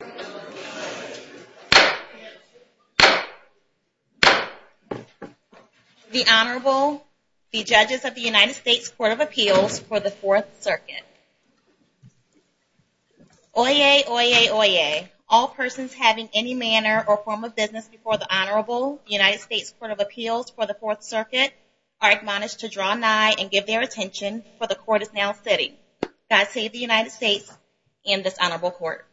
The Honorable, the Judges of the United States Court of Appeals for the Fourth Circuit. Oyez! Oyez! Oyez! All persons having any manner or form of business before the Honorable, the United States Court of Appeals for the Fourth Circuit, are admonished to draw nigh and give their attention, for the Court is now sitting. God save the United States and this Honorable Court.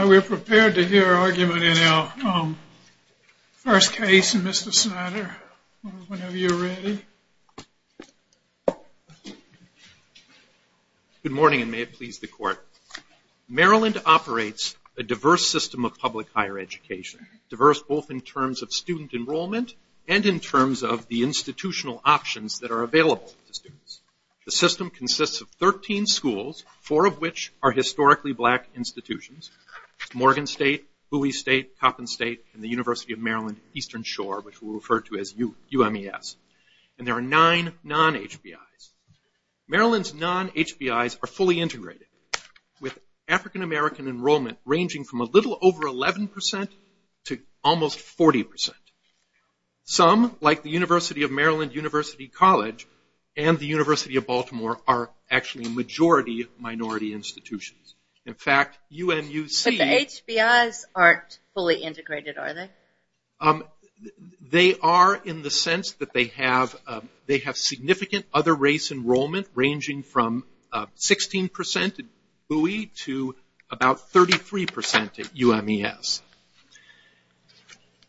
We're prepared to hear argument in our first case, and Mr. Snyder, whenever you're ready. Good morning, and may it please the Court. Maryland operates a diverse system of public higher education, diverse both in terms of student enrollment and in terms of the institutional options that are available to students. The system consists of 13 schools, four of which are historically black institutions, Morgan State, Bowie State, Hopkins State, and the University of Maryland Eastern Shore, which we'll refer to as UMES. And there are nine non-HBIs. Maryland's non-HBIs are fully integrated, with African-American enrollment ranging from a little over 11% to almost 40%. Some, like the University of Maryland University College and the University of Baltimore, are actually a majority of minority institutions. In fact, UNUC... But the HBIs aren't fully integrated, are they? They are in the sense that they have significant other race enrollment, ranging from 16% at Bowie to about 33% at UMES.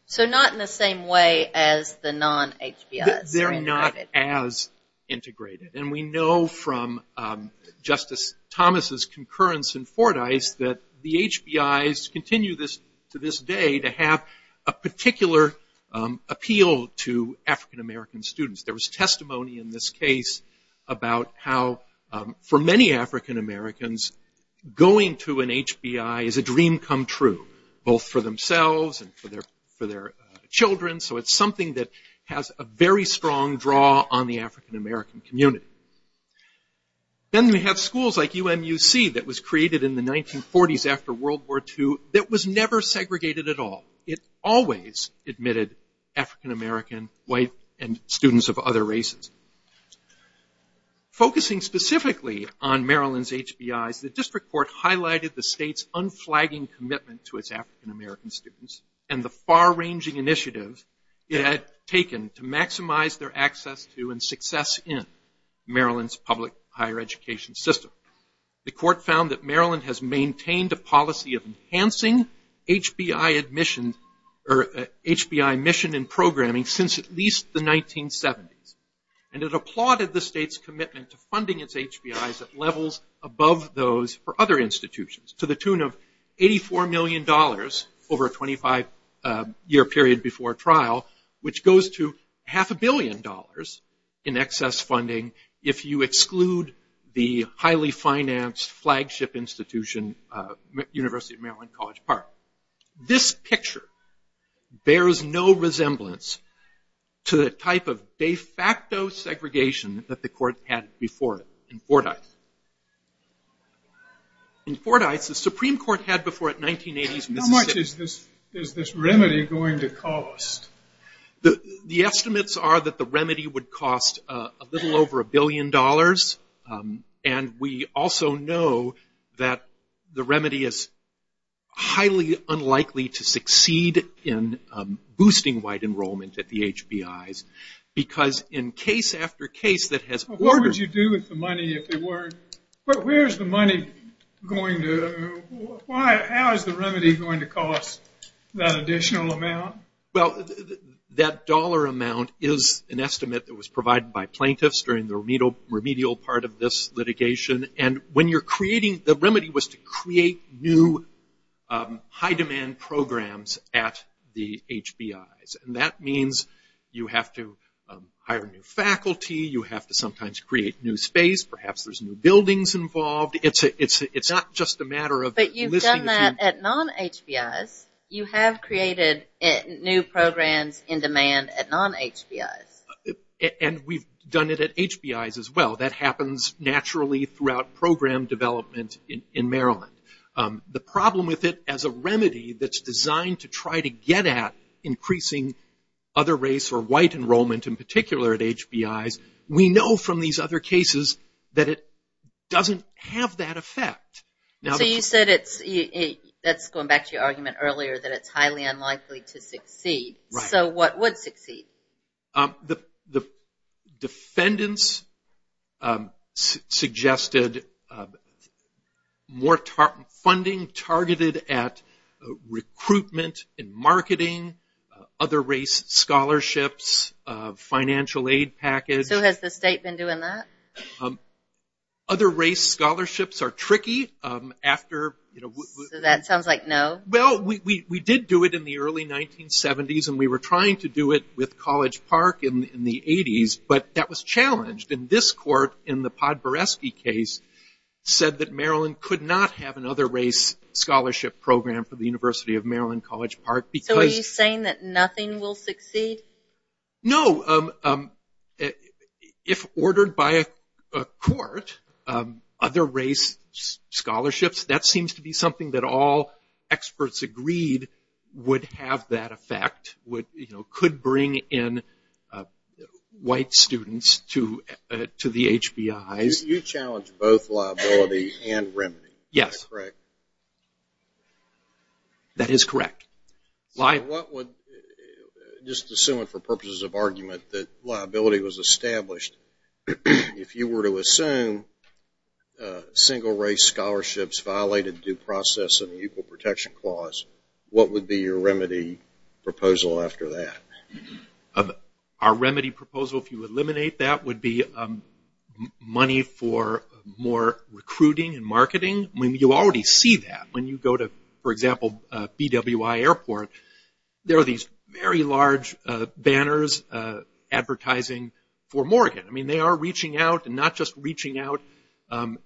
So not in the same way as the non-HBIs. They're not as integrated. And we know from Justice Thomas's concurrence in Fordyce that the HBIs continue to this day to have a particular appeal to African-American students. There was testimony in this case about how, for many African-Americans, going to an HBI is a dream come true, both for themselves and for their children. So it's something that has a very strong draw on the African-American community. Then we have schools like UMUC that was created in the 1940s after World War II that was never segregated at all. It always admitted African-American, white, and students of other races. Focusing specifically on Maryland's HBIs, the district court highlighted the state's unflagging commitment to its African-American students and the far-ranging initiatives it had taken to maximize their access to and success in Maryland's public higher education system. The court found that Maryland has maintained a policy of enhancing HBI admission or HBI mission and programming since at least the 1970s. And it applauded the state's commitment to funding its HBIs at levels above those for other institutions to the tune of $84 million over a 25-year period before trial, which goes to half a billion dollars in excess funding if you exclude the highly financed flagship institution, University of Maryland College Park. This picture bears no resemblance to the type of de facto segregation that the court had before it in Fordyce. In Fordyce, the Supreme Court had before it in the 1980s. How much is this remedy going to cost? The estimates are that the remedy would cost a little over a billion dollars. And we also know that the remedy is highly unlikely to succeed in boosting white enrollment at the HBIs because in case after case that has ordered- What would you do with the money if it weren't- But where's the money going to- How is the remedy going to cost that additional amount? Well, that dollar amount is an estimate that was provided by plaintiffs during the remedial part of this litigation. And when you're creating- the remedy was to create new high-demand programs at the HBIs. And that means you have to hire new faculty, you have to sometimes create new space, perhaps there's new buildings involved. It's not just a matter of- But you've done that at non-HBIs. You have created new programs in demand at non-HBIs. And we've done it at HBIs as well. That happens naturally throughout program development in Maryland. The problem with it as a remedy that's designed to try to get at increasing other race or white enrollment in particular at HBIs, we know from these other cases that it doesn't have that effect. So you said it's- that's going back to your argument earlier that it's highly unlikely to succeed. So what would succeed? The defendants suggested more funding targeted at recruitment and marketing, other race scholarships, financial aid package. So has the state been doing that? Other race scholarships are tricky after- That sounds like no. Well, we did do it in the early 1970s and we were trying to do it with College Park in the 80s, but that was challenged. And this court in the Podboreski case said that Maryland could not have another race scholarship program for the University of Maryland College Park because- So are you saying that nothing will succeed? No. If ordered by a court, other race scholarships, that seems to be something that all experts agreed would have that effect, could bring in white students to the HBIs. You challenged both liability and remedy. Yes. That's correct. That is correct. Just assuming for purposes of argument that liability was established, if you were to assume single race scholarships violated due process and the Equal Protection Clause, what would be your remedy proposal after that? Our remedy proposal, if you eliminate that, would be money for more recruiting and marketing. When you already see that, when you go to, for example, BWI Airport, there are these very large banners advertising for Morgan. I mean, they are reaching out and not just reaching out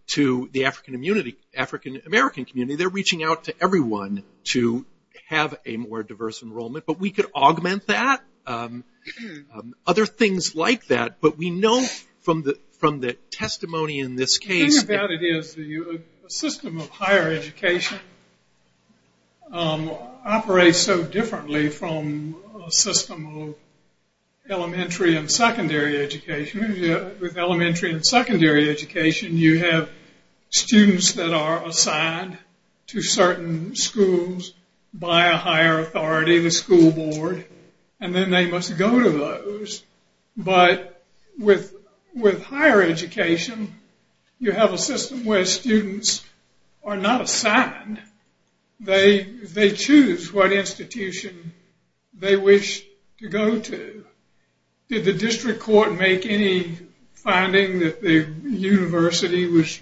to the African-American community, they're reaching out to everyone to have a more diverse enrollment. But we could augment that, other things like that. But we know from the testimony in this case- The thing about it is the system of higher education operates so differently from a system of elementary and secondary education. With elementary and secondary education, you have students that are assigned to certain schools by a higher authority, the school board, and then they must go to those. But with higher education, you have a system where students are not assigned. They choose what institution they wish to go to. Did the district court make any finding that the university was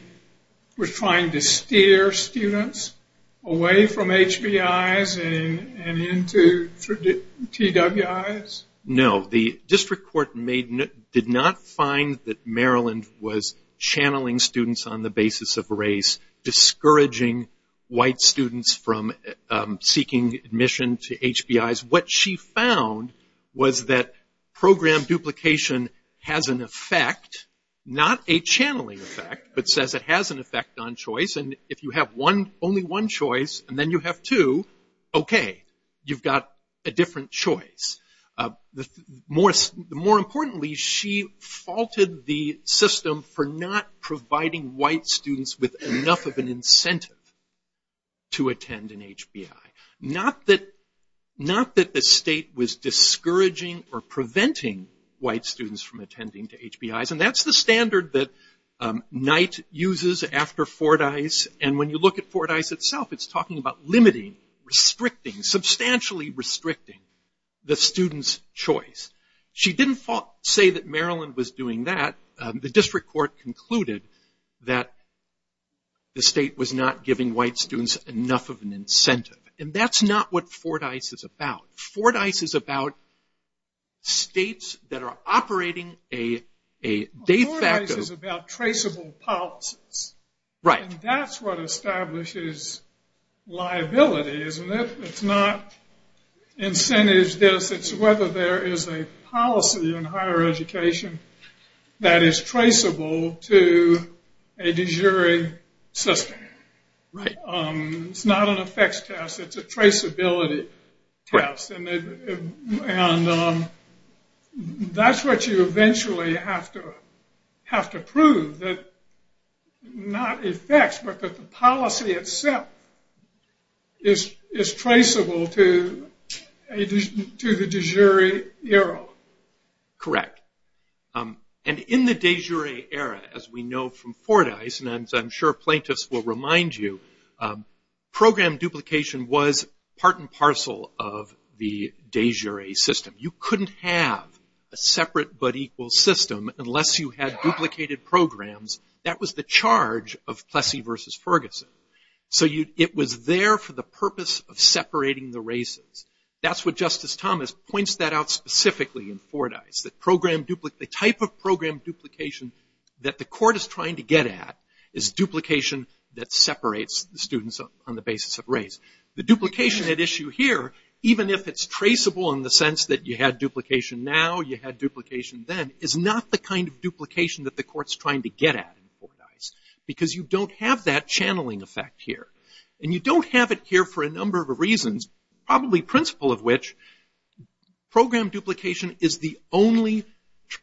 trying to steer students away from HBIs and into TWIs? No, the district court did not find that Maryland was channeling students on the basis of race, discouraging white students from seeking admission to HBIs. What she found was that program duplication has an effect, not a channeling effect, but says it has an effect on choice. And if you have only one choice and then you have two, okay, you've got a different choice. More importantly, she faulted the system for not providing white students with enough of an incentive to attend an HBI. Not that the state was discouraging or preventing white students from attending to HBIs. And that's the standard that Knight uses after Fordyce. And when you look at Fordyce itself, it's talking about limiting, restricting, substantially restricting the student's choice. She didn't say that Maryland was doing that. The district court concluded that the state was not giving white students enough of an incentive. And that's not what Fordyce is about. Fordyce is about states that are operating a date factor. Fordyce is about traceable policies. Right. And that's what establishes liability, isn't it? It's not incentives, it's whether there is a policy in higher education that is traceable to a de jure system. Right. It's not an effects test, it's a traceability test. And that's what you eventually have to prove, that not effects, but that the policy itself is traceable to the de jure era. Correct. And in the de jure era, as we know from Fordyce, and I'm sure plaintiffs will remind you, program duplication was part and parcel of the de jure system. You couldn't have a separate but equal system unless you had duplicated programs. That was the charge of Plessy versus Ferguson. So it was there for the purpose of separating the races. That's what Justice Thomas points that out specifically in Fordyce, that the type of program duplication that the court is trying to get at is duplication that separates the students on the basis of race. The duplication at issue here, even if it's traceable in the sense that you had duplication now, you had duplication then, is not the kind of duplication that the court's trying to get at in Fordyce because you don't have that channeling effect here. And you don't have it here for a number of reasons, probably principle of which program duplication is the only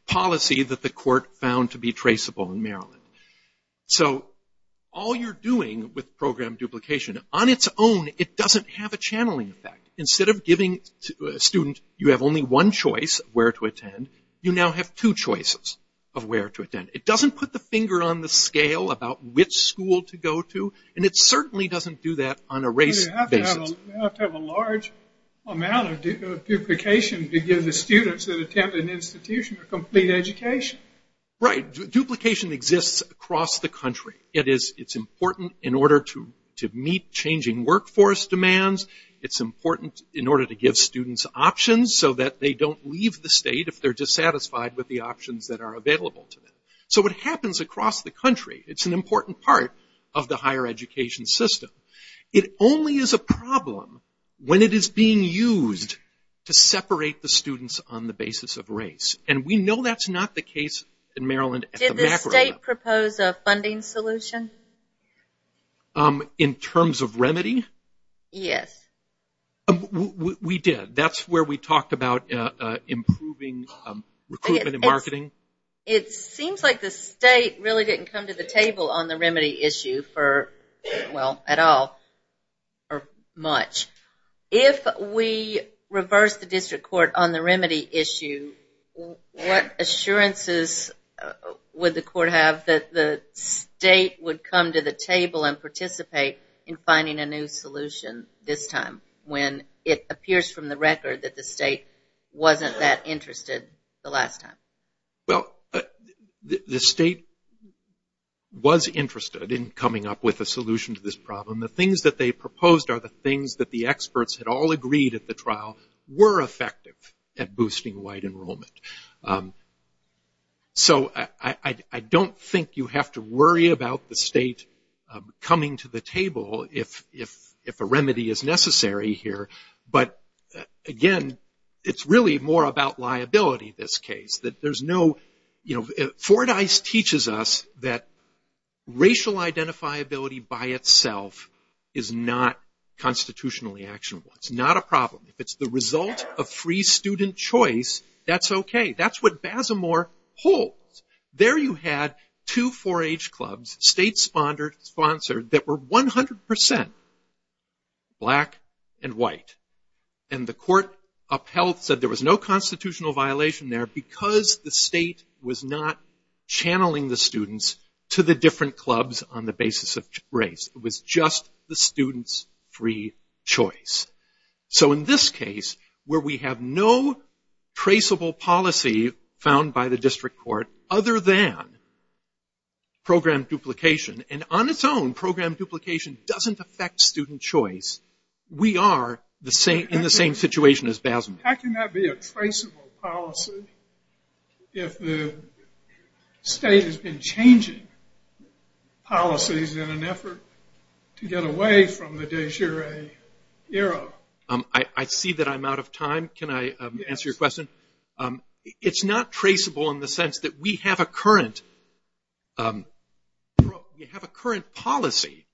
policy that the court found to be traceable in Maryland. So all you're doing with program duplication, on its own, it doesn't have a channeling effect. Instead of giving a student, you have only one choice of where to attend, you now have two choices of where to attend. It doesn't put the finger on the scale about which school to go to, and it certainly doesn't do that on a race basis. You have to have a large amount of duplication to give the students that attend an institution a complete education. Right. Duplication exists across the country. It's important in order to meet changing workforce demands. It's important in order to give students options so that they don't leave the state if they're dissatisfied with the options that are available to them. So it happens across the country. It's an important part of the higher education system. It only is a problem when it is being used to separate the students on the basis of race. And we know that's not the case in Maryland. Did the state propose a funding solution? In terms of remedy? Yes. We did. That's where we talked about improving recruitment and marketing. It seems like the state really didn't come to the table on the remedy issue for, well, at all or much. If we reverse the district court on the remedy issue, what assurances would the court have that the state would come to the table and participate in finding a new solution this time when it appears from the record that the state wasn't that interested the last time? Well, the state was interested in coming up with a solution to this problem. And the things that they proposed are the things that the experts had all agreed at the trial were effective at boosting white enrollment. So I don't think you have to worry about the state coming to the table if a remedy is necessary here. But, again, it's really more about liability, this case. Fordyce teaches us that racial identifiability by itself is not constitutionally actionable. It's not a problem. If it's the result of free student choice, that's okay. That's what Basimore holds. There you had two 4-H clubs, state-sponsored, that were 100 percent black and white. And the court upheld that there was no constitutional violation there because the state was not channeling the students to the different clubs on the basis of race. It was just the students' free choice. So in this case, where we have no traceable policy found by the district court other than program duplication, and on its own, program duplication doesn't affect student choice, we are in the same situation as Basimore. How can that be a traceable policy if the state has been changing policies in an effort to get away from the de jure era? I see that I'm out of time. Can I answer your question? It's not traceable in the sense that we have a current policy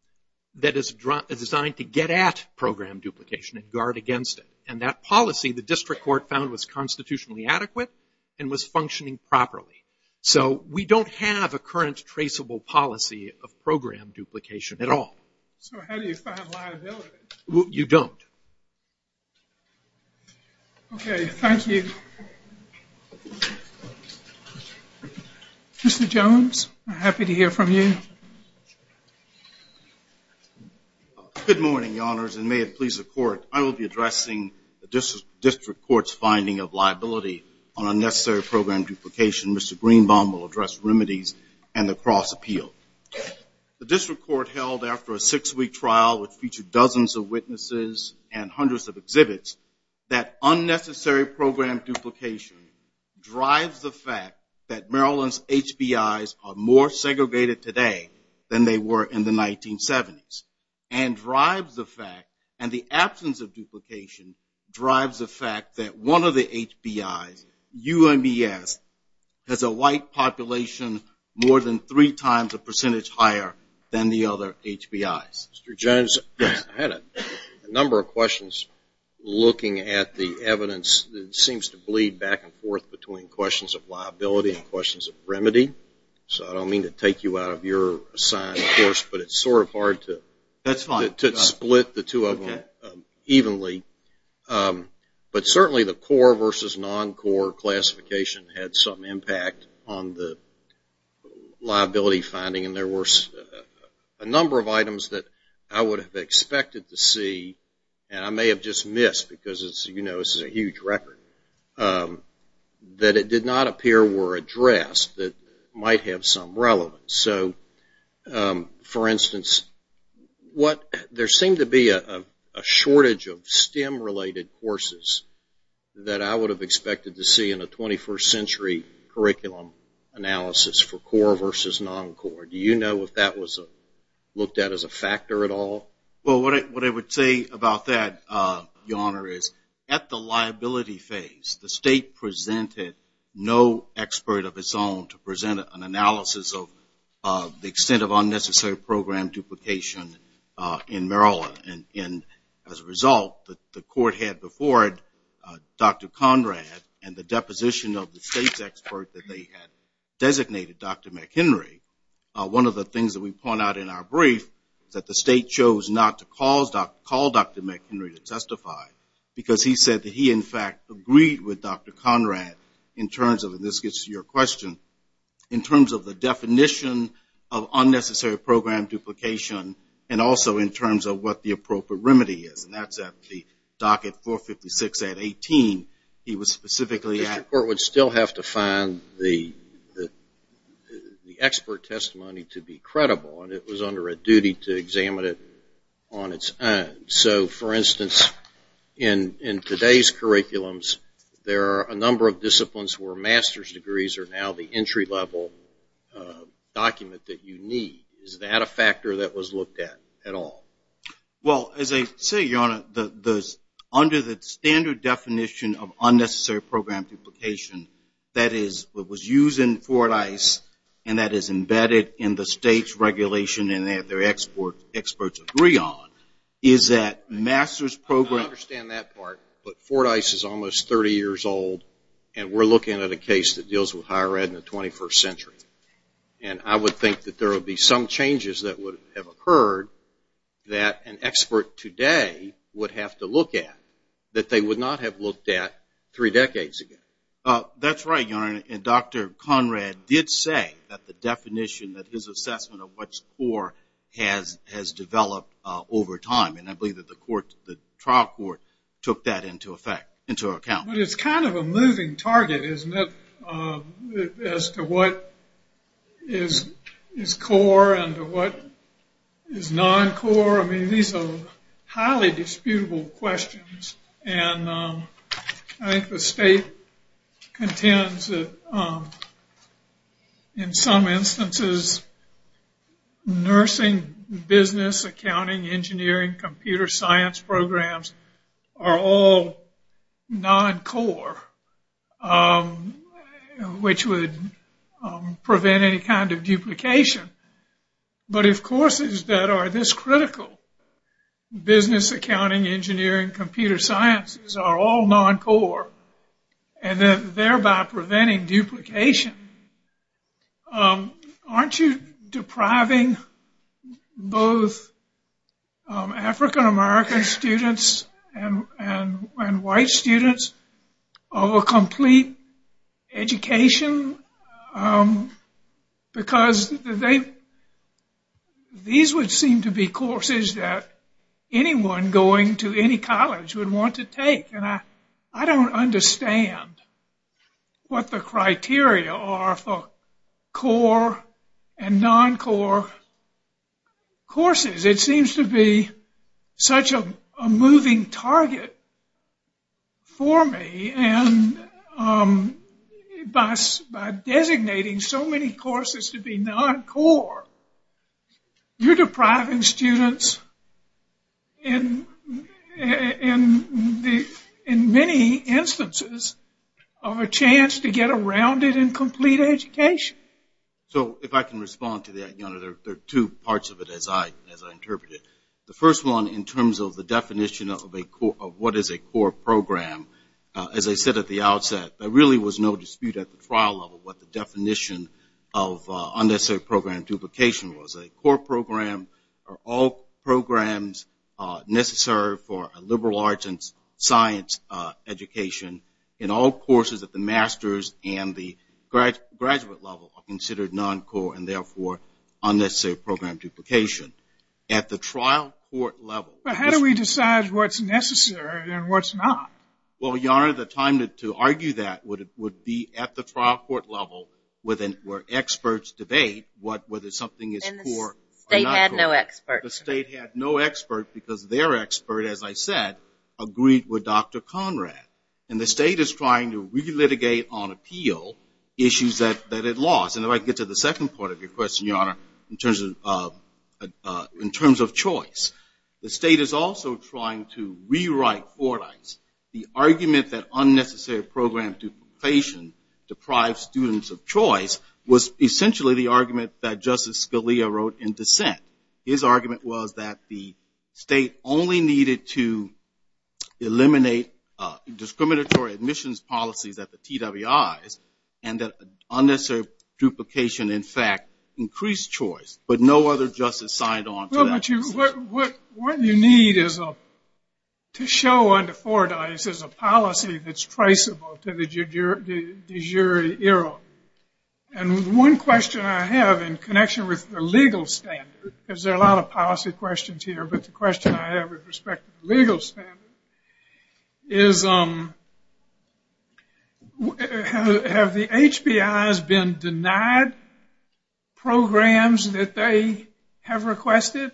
that is designed to get at program duplication and guard against it. And that policy, the district court found, was constitutionally adequate and was functioning properly. So we don't have a current traceable policy of program duplication at all. So how do you find liability? You don't. Okay, thank you. Mr. Jones, I'm happy to hear from you. Good morning, Your Honors, and may it please the Court, I will be addressing the district court's finding of liability on unnecessary program duplication. Mr. Greenbaum will address remedies and the cross-appeal. The district court held after a six-week trial which featured dozens of witnesses and hundreds of exhibits that unnecessary program duplication drives the fact that Maryland's HBIs are more segregated today than they were in the 1970s and the absence of duplication drives the fact that one of the HBIs, UMES, has a white population more than three times a percentage higher than the other HBIs. Mr. Jones, I had a number of questions looking at the evidence that seems to bleed back and forth between questions of liability and questions of remedy. So I don't mean to take you out of your science course, but it's sort of hard to split the two of them evenly. But certainly the core versus non-core classification had some impact on the liability finding, and there were a number of items that I would have expected to see, and I may have just missed because, you know, this is a huge record, that it did not appear were addressed that might have some relevance. So, for instance, there seemed to be a shortage of STEM-related courses that I would have expected to see in a 21st century curriculum analysis for core versus non-core. Do you know if that was looked at as a factor at all? Well, what I would say about that, Your Honor, is at the liability phase, the state presented no expert of its own to present an analysis of the extent of unnecessary program duplication in Maryland. And as a result, the court had before it Dr. Conrad and the deposition of the state's expert that they had designated, Dr. McHenry. One of the things that we point out in our brief, that the state chose not to call Dr. McHenry to testify, because he said that he, in fact, agreed with Dr. Conrad in terms of, and this gets to your question, in terms of the definition of unnecessary program duplication and also in terms of what the appropriate remedy is. And that's at the docket 456 at 18, he was specifically asked. The court would still have to find the expert testimony to be credible, and it was under a duty to examine it on its own. So, for instance, in today's curriculums, there are a number of disciplines where master's degrees are now the entry-level document that you need. Is that a factor that was looked at at all? Well, as I say, Your Honor, under the standard definition of unnecessary program duplication, that is what was used in Fort ICE, and that is embedded in the state's regulation and that their experts agree on, is that master's program... I understand that part, but Fort ICE is almost 30 years old, and we're looking at a case that deals with higher ed in the 21st century. And I would think that there would be some changes that would have occurred that an expert today would have to look at that they would not have looked at three decades ago. That's right, Your Honor, and Dr. Conrad did say that the definition, that his assessment of what's core has developed over time, and I believe that the trial court took that into account. But it's kind of a moving target, isn't it, as to what is core and what is non-core? I mean, these are highly disputable questions, and I think the state contends that in some instances, nursing, business, accounting, engineering, computer science programs are all non-core, which would prevent any kind of duplication. But if courses that are this critical, business, accounting, engineering, and computer sciences are all non-core, and then thereby preventing duplication, aren't you depriving both African-American students and white students of a complete education? Because these would seem to be courses that anyone going to any college would want to take, and I don't understand what the criteria are for core and non-core courses. It seems to be such a moving target for me, and by designating so many courses to be non-core, you're depriving students, in many instances, of a chance to get a rounded and complete education. So, if I can respond to that, you know, there are two parts of it as I interpret it. The first one, in terms of the definition of what is a core program, as I said at the outset, there really was no dispute at the trial level what the definition of unnecessary program duplication was. A core program are all programs necessary for a liberal arts and science education, and all courses at the master's and the graduate level are considered non-core, and therefore, unnecessary program duplication. At the trial court level... But how do we decide what's necessary and what's not? Well, Your Honor, the time to argue that would be at the trial court level where experts debate whether something is core or not core. And the state had no experts. The state had no experts because their expert, as I said, agreed with Dr. Conrad. And the state is trying to relitigate on appeal issues that it lost. And then I can get to the second part of your question, Your Honor, in terms of choice. The state is also trying to rewrite Fordyce. The argument that unnecessary program duplication deprived students of choice was essentially the argument that Justice Scalia wrote in dissent. His argument was that the state only needed to eliminate discriminatory admissions policies at the TWI and that unnecessary duplication, in fact, increased choice, but no other justice signed on to that. What you need to show under Fordyce is a policy that's priceable to the jury era. And one question I have in connection with the legal standard, because there are a lot of policy questions here, but the question I have with respect to the legal standard is, have the HBIs been denied programs that they have requested?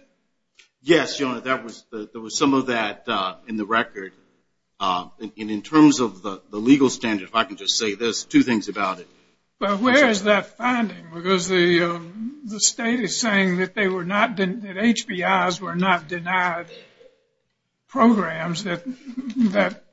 Yes, Your Honor, there was some of that in the record. And in terms of the legal standard, if I can just say this, two things about it. But where is that finding? Because the state is saying that HBIs were not denied programs that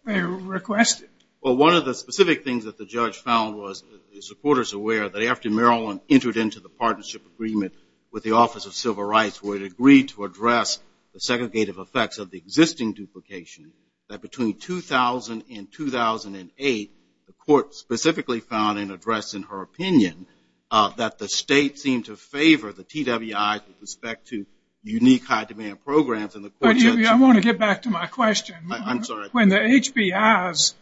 they requested. Well, one of the specific things that the judge found was, the supporters are aware, that after Maryland entered into the partnership agreement with the Office of Civil Rights, where it agreed to address the segregative effects of the existing duplication, that between 2000 and 2008, the court specifically found and addressed in her opinion that the state seemed to favor the TWI with respect to unique high-demand programs. I want to get back to my question. I'm sorry. When the HBIs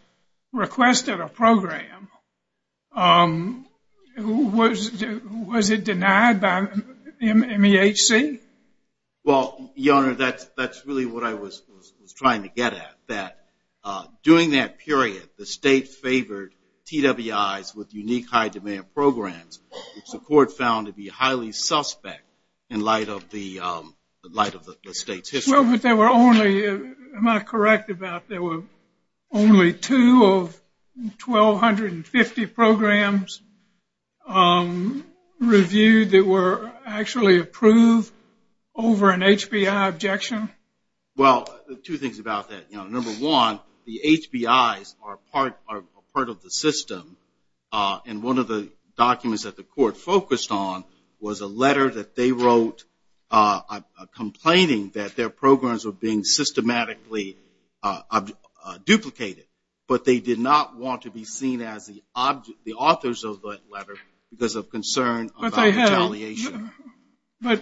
requested a program, was it denied by MEHC? Well, Your Honor, that's really what I was trying to get at, that during that period, the state favored TWIs with unique high-demand programs, which the court found to be highly suspect in light of the state's history. Well, but there were only, am I correct about there were only two of 1,250 programs reviewed that were actually approved over an HBI objection? Well, two things about that. Number one, the HBIs are part of the system, and one of the documents that the court focused on was a letter that they wrote complaining that their programs were being systematically duplicated, but they did not want to be seen as the authors of that letter because of concern about retaliation. But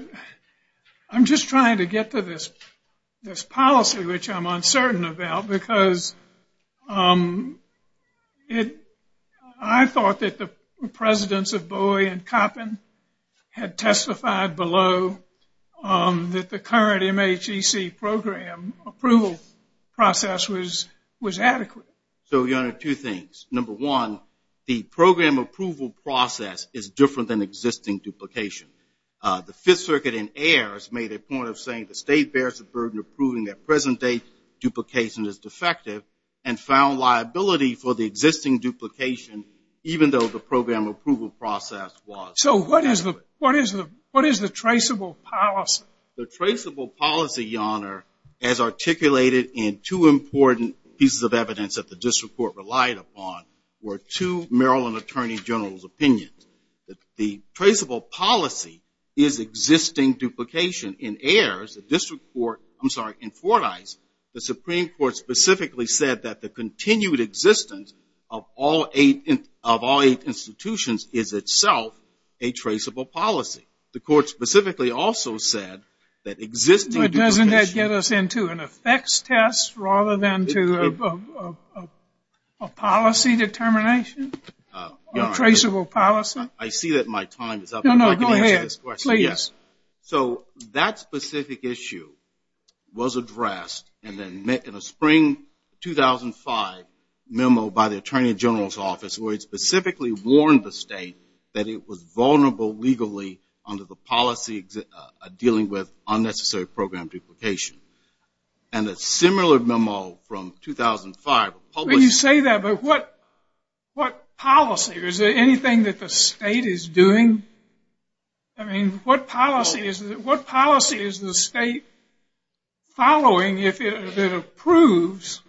I'm just trying to get to this policy, which I'm uncertain about, because I thought that the presidents of Bowie and Koppin had testified below that the current MHEC program approval process was adequate. So, Your Honor, two things. Number one, the program approval process is different than existing duplication. The Fifth Circuit in Ayer has made a point of saying the state bears the burden of proving that present-day duplication is defective and found liability for the existing duplication, even though the program approval process was. So what is the traceable policy? The traceable policy, Your Honor, as articulated in two important pieces of evidence that the district court relied upon were two Maryland Attorney General's opinions. The traceable policy is existing duplication. In Ayer, the district court – I'm sorry, in Fordyce, the Supreme Court specifically said that the continued existence of all institutions is itself a traceable policy. The court specifically also said that existing duplication – But doesn't that get us into an effects test rather than to a policy determination? A traceable policy? I see that my time is up. No, no, go ahead. Please. Yes. So that specific issue was addressed in a spring 2005 memo by the Attorney General's office where he specifically warned the state that it was vulnerable legally under the policy dealing with unnecessary program duplication. And a similar memo from 2005 – When you say that, but what policy? Is there anything that the state is doing? I mean, what policy is the state following if it approves?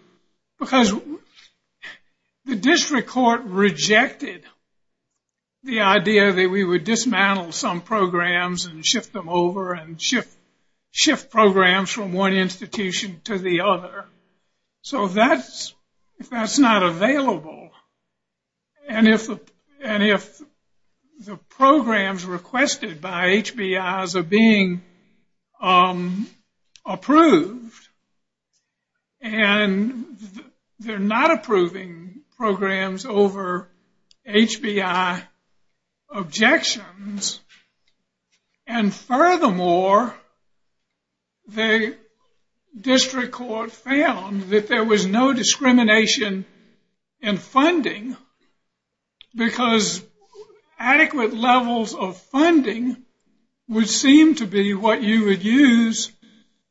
Because the district court rejected the idea that we would dismantle some programs and shift them over and shift programs from one institution to the other. So that's not available. And if the programs requested by HBIs are being approved and they're not approving programs over HBI objections, and furthermore the district court found that there was no discrimination in funding because adequate levels of funding would seem to be what you would use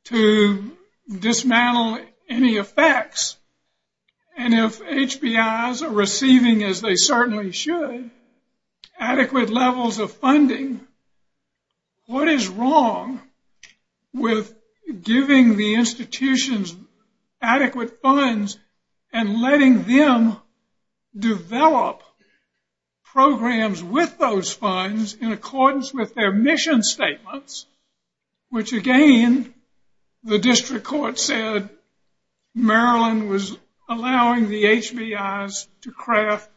to dismantle any effects. And if HBIs are receiving as they certainly should, adequate levels of funding, what is wrong with giving the institutions adequate funds and letting them develop programs with those funds in accordance with their mission statements, which again the district court said Maryland was allowing the HBIs to craft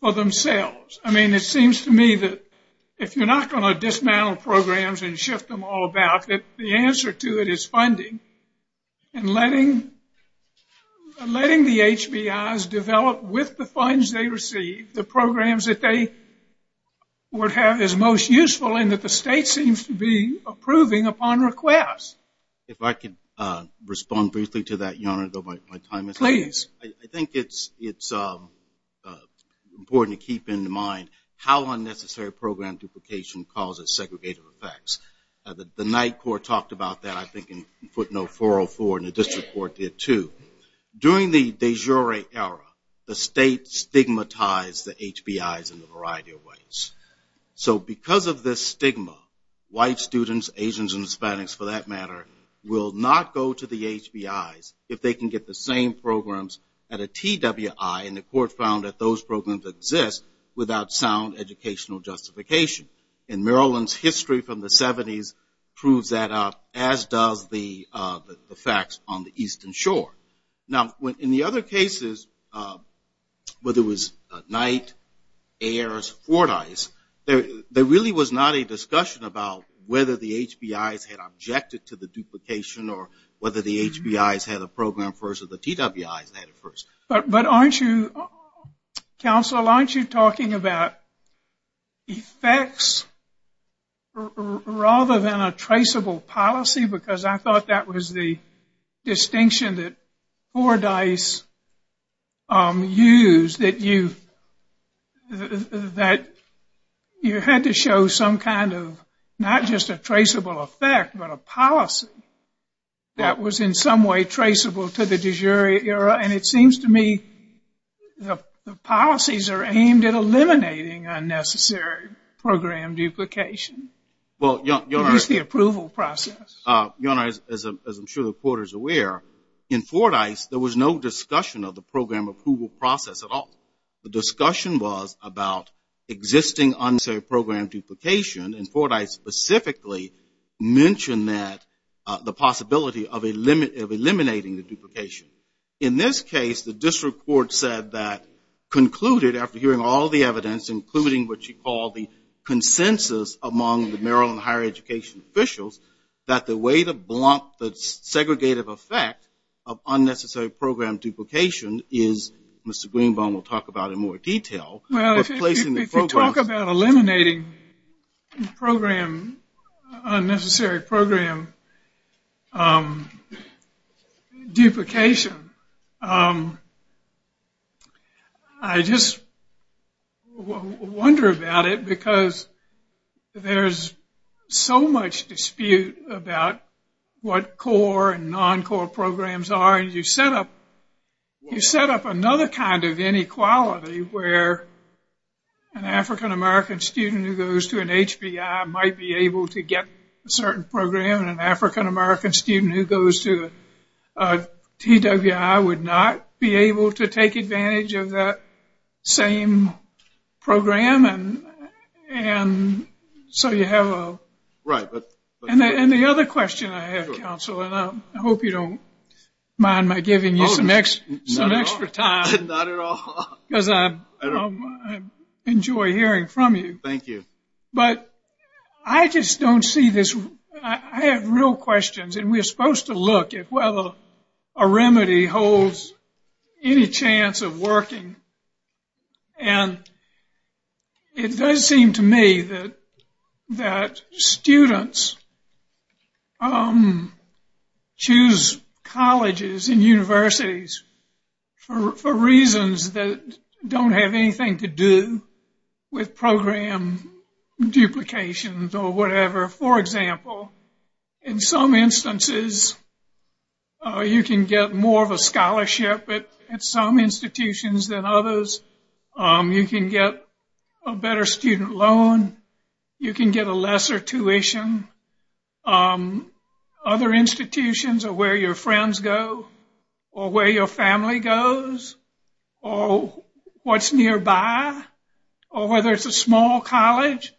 for themselves? I mean, it seems to me that if you're not going to dismantle programs and shift them all back, that the answer to it is funding and letting the HBIs develop with the funds they receive the programs that they would have as most useful and that the state seems to be approving upon request. If I can respond briefly to that, please. I think it's important to keep in mind how unnecessary program duplication causes segregated effects. The night court talked about that I think in footnote 404 and the district court did too. During the de jure era, the state stigmatized the HBIs in a variety of ways. So because of this stigma, white students, Asians and Hispanics for that matter, will not go to the HBIs if they can get the same programs at a TWI, and the court found that those programs exist without sound educational justification. And Maryland's history from the 70s proves that out, as does the facts on the Eastern Shore. Now, in the other cases, whether it was Knight, Ayers, Fortis, there really was not a discussion about whether the HBIs had objected to the duplication or whether the HBIs had a program first or the TWIs had it first. But aren't you, counsel, aren't you talking about effects rather than a traceable policy? Because I thought that was the distinction that Fordyce used, that you had to show some kind of not just a traceable effect, but a policy that was in some way traceable to the de jure era, and it seems to me the policies are aimed at eliminating unnecessary program duplication. Well, your Honor, as I'm sure the court is aware, in Fordyce there was no discussion of the program approval process at all. The discussion was about existing unnecessary program duplication, and Fordyce specifically mentioned that, the possibility of eliminating the duplication. In this case, the district court said that concluded after hearing all the evidence, including what you call the consensus among the Maryland higher education officials, that the way to block the segregative effect of unnecessary program duplication is, Mr. Greenbaum will talk about in more detail. Well, if you talk about eliminating program, unnecessary program duplication, I just wonder about it because there is so much dispute about what core and non-core programs are, and you set up another kind of inequality where an African-American student who goes to an HBI might be able to get a certain program, and an African-American student who goes to a DWI would not be able to take advantage of that same program, and so you have a... Right. And the other question I have, Counselor, and I hope you don't mind my giving you some extra time. Not at all. Because I enjoy hearing from you. Thank you. But I just don't see this. I have real questions, and we're supposed to look at whether a remedy holds any chance of working, and it does seem to me that students choose colleges and universities for reasons that don't have anything to do with program duplications or whatever. For example, in some instances, you can get more of a scholarship at some institutions than others. You can get a better student loan. You can get a lesser tuition. Other institutions are where your friends go or where your family goes or what's nearby or whether it's a small college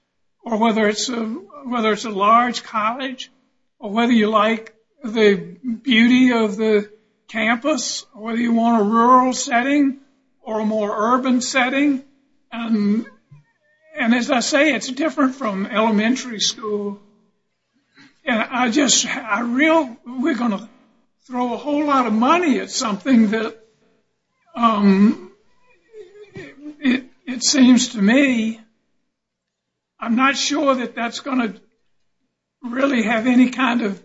or whether it's a large college or whether you like the beauty of the campus or whether you want a rural setting or a more urban setting. And as I say, it's different from elementary school. And I just... I really... We're going to throw a whole lot of money at something that, it seems to me, I'm not sure that that's going to really have any kind of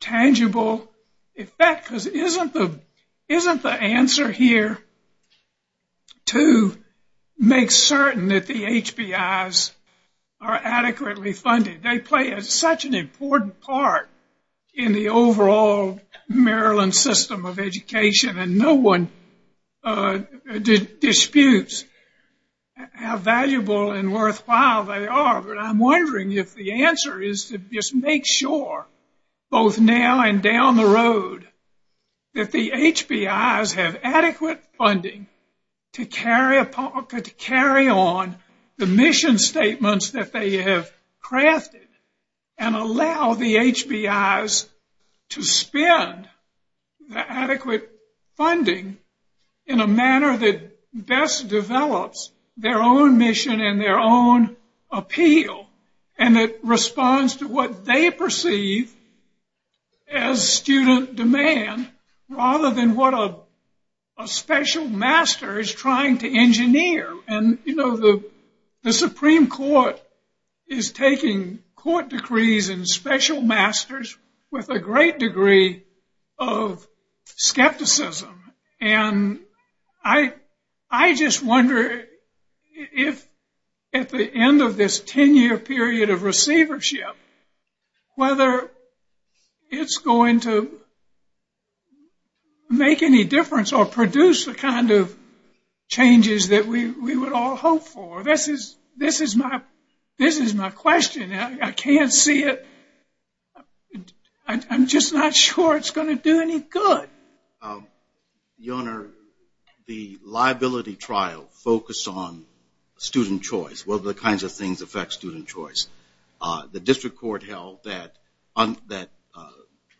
tangible effect, because isn't the answer here to make certain that the HBIs are adequately funded? They play such an important part in the overall Maryland system of education, and no one disputes how valuable and worthwhile they are. But I'm wondering if the answer is to just make sure, both now and down the road, that the HBIs have adequate funding to carry on the mission statements that they have crafted and allow the HBIs to spend the adequate funding in a manner that best develops their own mission and their own appeal and that responds to what they perceive as student demand rather than what a special master is trying to engineer. And, you know, the Supreme Court is taking court decrees and special masters with a great degree of skepticism. And I just wonder if, at the end of this 10-year period of receivership, whether it's going to make any difference or produce the kind of changes that we would all hope for. This is my question. I can't see it. I'm just not sure it's going to do any good. Your Honor, the liability trial focused on student choice, what are the kinds of things that affect student choice. The district court held that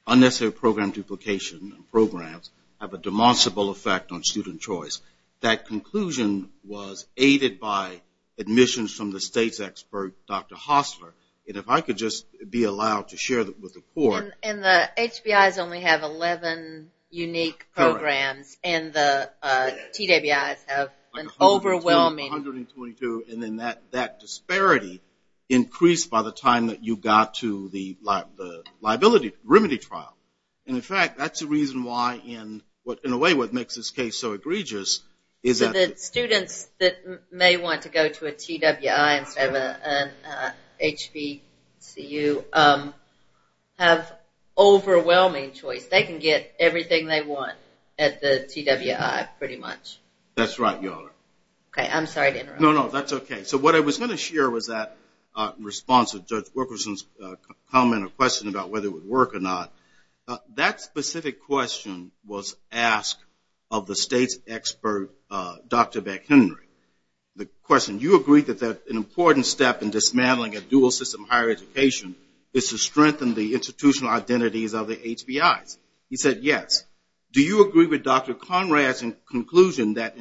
unnecessary program duplication of programs have a demonstrable effect on student choice. That conclusion was aided by admissions from the state's expert, Dr. Hossler. And if I could just be allowed to share that with the court. And the HBIs only have 11 unique programs and the PWIs have an overwhelming And then that disparity increased by the time that you got to the liability remedy trial. And, in fact, that's the reason why, in a way, what makes this case so egregious. The students that may want to go to a PWI instead of an HBCU have overwhelming choice. They can get everything they want at the PWI, pretty much. That's right, Your Honor. Okay, I'm sorry to interrupt. No, no, that's okay. So what I was going to share with that response of Judge Wilkerson's comment or question about whether it would work or not, that specific question was asked of the state's expert, Dr. McHenry. The question, you agreed that an important step in dismantling a dual system higher education is to strengthen the institutional identities of the HBIs. He said, yes. He said, do you agree with Dr. Conrad's conclusion that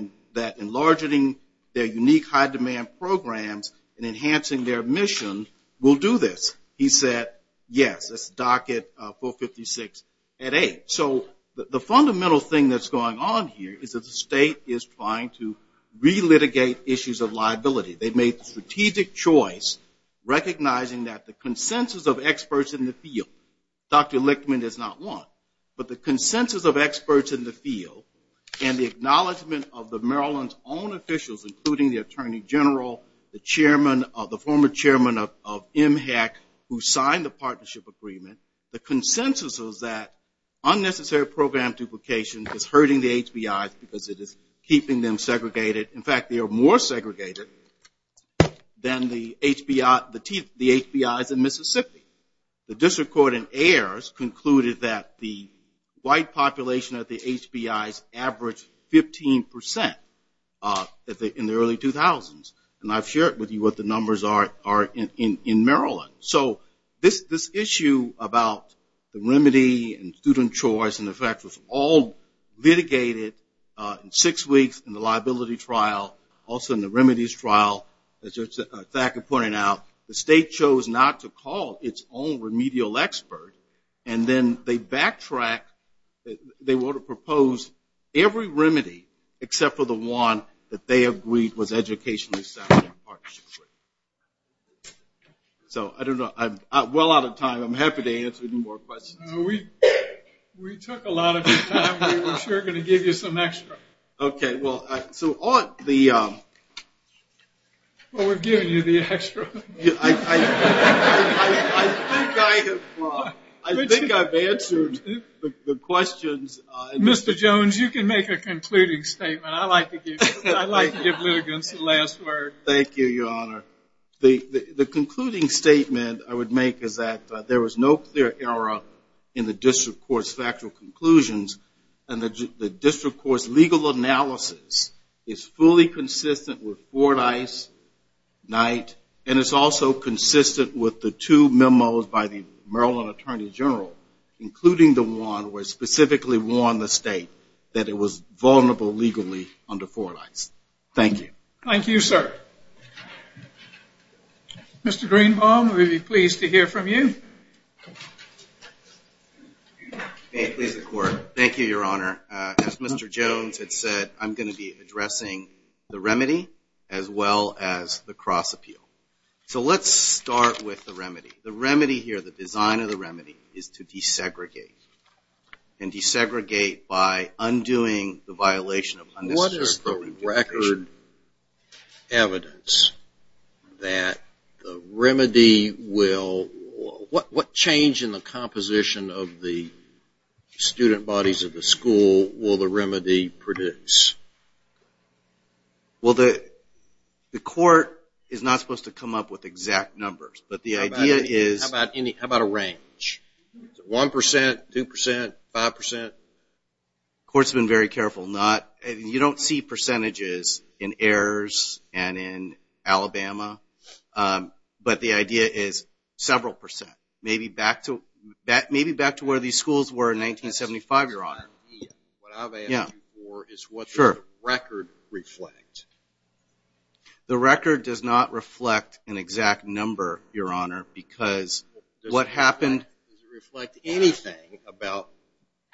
enlarging their unique high-demand programs and enhancing their mission will do this? He said, yes, let's dock at 456 at 8. So the fundamental thing that's going on here is that the state is trying to relitigate issues of liability. They've made strategic choice recognizing that the consensus of experts in the field, Dr. Lichtman is not one, but the consensus of experts in the field and the acknowledgement of the Maryland's own officials, including the Attorney General, the former chairman of MHEC, who signed the partnership agreement, the consensus was that unnecessary program duplication is hurting the HBIs because it is keeping them segregated. In fact, they are more segregated than the HBIs in Mississippi. The district court in Ayers concluded that the white population of the HBIs averaged 15% in the early 2000s, and I've shared with you what the numbers are in Maryland. So this issue about the remedy and student choice, in effect, was all litigated in six weeks in the liability trial, also in the remedies trial. As Zach had pointed out, the state chose not to call its own remedial expert, and then they backtracked. They would have proposed every remedy except for the one that they agreed was educationally sound and partnership-free. So I don't know. I'm well out of time. I'm happy to answer any more questions. We took a lot of your time. We're sure going to give you some extra. Well, we're giving you the extra. I think I've answered the questions. Mr. Jones, you can make a concluding statement. I like to give litigants the last word. Thank you, Your Honor. The concluding statement I would make is that there was no clear error in the district court's factual conclusions, and the district court's legal analysis is fully consistent with Fordyce, Knight, and it's also consistent with the two memos by the Maryland Attorney General, including the one where it specifically warned the state that it was vulnerable legally under Fordyce. Thank you. Thank you, sir. Mr. Greenbaum, we'd be pleased to hear from you. Thank you, Your Honor. As Mr. Jones had said, I'm going to be addressing the remedy as well as the cross-appeal. So let's start with the remedy. The remedy here, the design of the remedy, is to desegregate and desegregate by undoing the violation. What is the record evidence that the remedy will – what change in the composition of the student bodies of the school will the remedy produce? Well, the court is not supposed to come up with exact numbers, but the idea is – How about a range? One percent, two percent, five percent? The court's been very careful not – you don't see percentages in Ayers and in Alabama, but the idea is several percent, maybe back to where these schools were in 1975, Your Honor. What I'm asking for is what the record reflects. The record does not reflect an exact number, Your Honor, because what happened – Does it reflect anything about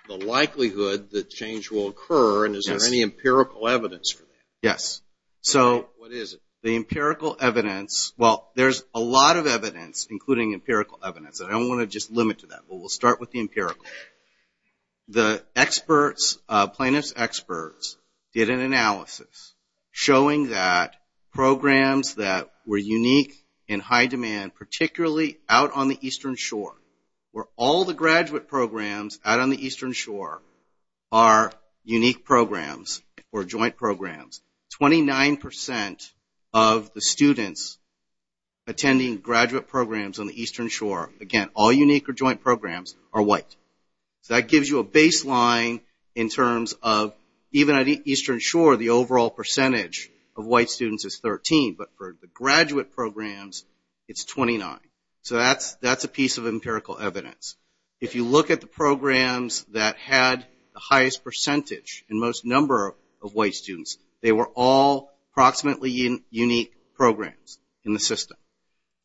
the likelihood that change will occur, and is there any empirical evidence for that? Yes. What is it? The empirical evidence – well, there's a lot of evidence, including empirical evidence. I don't want to just limit to that, but we'll start with the empirical. The experts, plaintiff's experts, did an analysis showing that we're unique in high demand, particularly out on the eastern shore, where all the graduate programs out on the eastern shore are unique programs or joint programs. Twenty-nine percent of the students attending graduate programs on the eastern shore, again, all unique or joint programs, are white. That gives you a baseline in terms of even at the eastern shore, the overall percentage of white students is 13, but for the graduate programs, it's 29. So that's a piece of empirical evidence. If you look at the programs that had the highest percentage and most number of white students, they were all approximately unique programs in the system.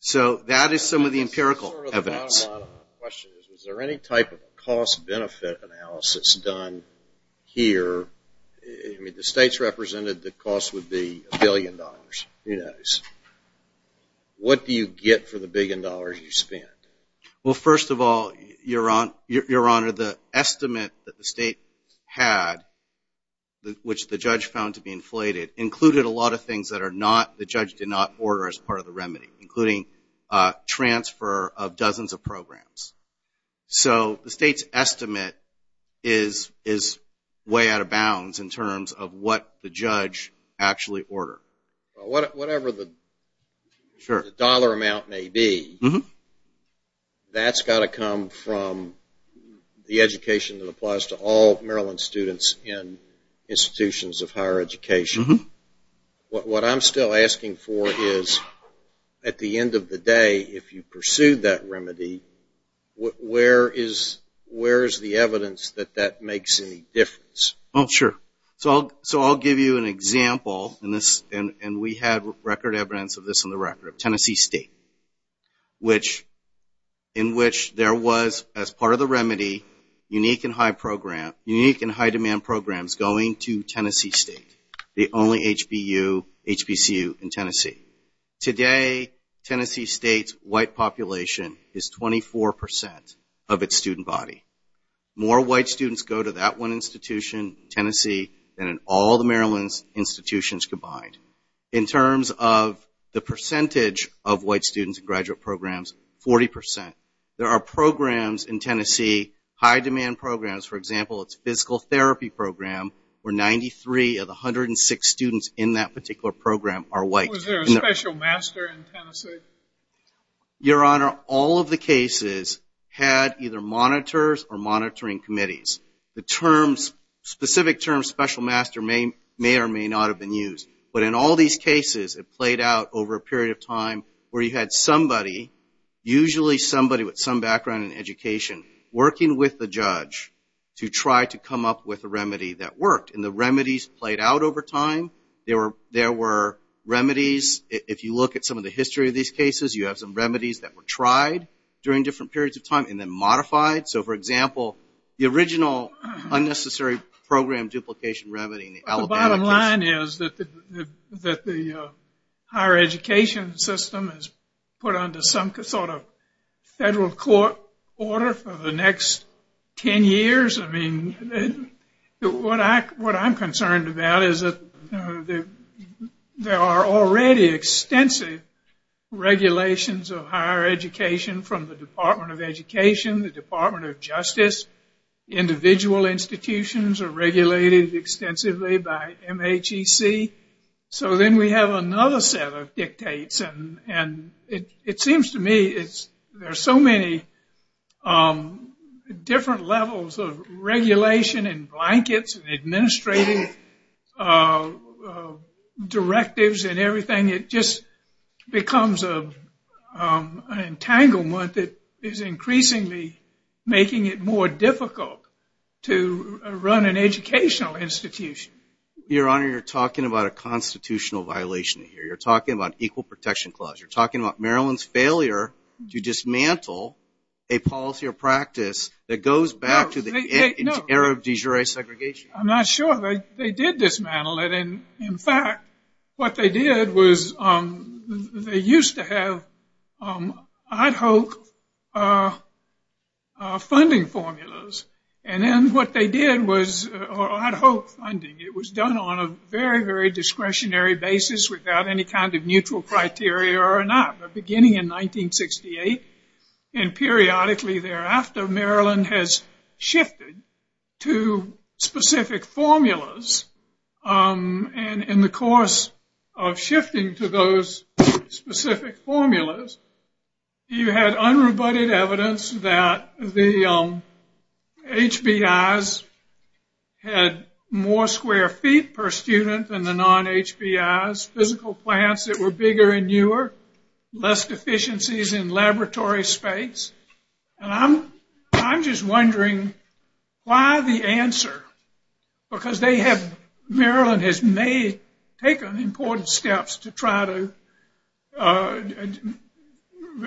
So that is some of the empirical evidence. My question is, is there any type of cost-benefit analysis done here? The states represented the cost would be a billion dollars. What do you get for the billion dollars you spend? Well, first of all, Your Honor, the estimate that the state had, which the judge found to be inflated, included a lot of things that the judge did not order as part of the remedy, including transfer of dozens of programs. So the state's estimate is way out of bounds in terms of what the judge actually ordered. Whatever the dollar amount may be, that's got to come from the education that applies to all Maryland students in institutions of higher education. What I'm still asking for is, at the end of the day, if you pursue that remedy, where is the evidence that that makes any difference? Oh, sure. So I'll give you an example, and we have record evidence of this on the record, of Tennessee State, in which there was, as part of the remedy, unique and high-demand programs going to Tennessee State, the only HBCU in Tennessee. Today, Tennessee State's white population is 24% of its student body. More white students go to that one institution, Tennessee, than in all the Maryland institutions combined. In terms of the percentage of white students in graduate programs, 40%. There are programs in Tennessee, high-demand programs, for example, its physical therapy program, where 93 of the 106 students in that particular program are white students. Was there a special master in Tennessee? Your Honor, all of the cases had either monitors or monitoring committees. The specific term special master may or may not have been used, but in all these cases, it played out over a period of time where you had somebody, usually somebody with some background in education, working with the judge to try to come up with a remedy that worked, and the remedies played out over time. There were remedies. If you look at some of the history of these cases, you have some remedies that were tried during different periods of time and then modified. So, for example, the original unnecessary program duplication remedy. The bottom line is that the higher education system is put under some sort of federal court order for the next 10 years. What I'm concerned about is that there are already extensive regulations of higher education from the Department of Education, the Department of Justice. Individual institutions are regulated extensively by MHEC. So then we have another set of dictates, and it seems to me there are so many different levels of regulation and blankets and administrative directives and everything. It just becomes an entanglement that is increasingly making it more difficult to run an educational institution. Your Honor, you're talking about a constitutional violation here. You're talking about Equal Protection Clause. You're talking about Maryland's failure to dismantle a policy or practice that goes back to the era of de jure segregation. I'm not sure. They did dismantle it. In fact, what they did was they used to have ad hoc funding formulas, and then what they did was ad hoc funding. It was done on a very, very discretionary basis without any kind of mutual criteria or not. But beginning in 1968 and periodically thereafter, Maryland has shifted to specific formulas. And in the course of shifting to those specific formulas, you had unrebutted evidence that the HBIs had more square feet per student than the non-HBIs. Less physical plants that were bigger and newer, less deficiencies in laboratory space. And I'm just wondering why the answer, because Maryland has taken important steps to try to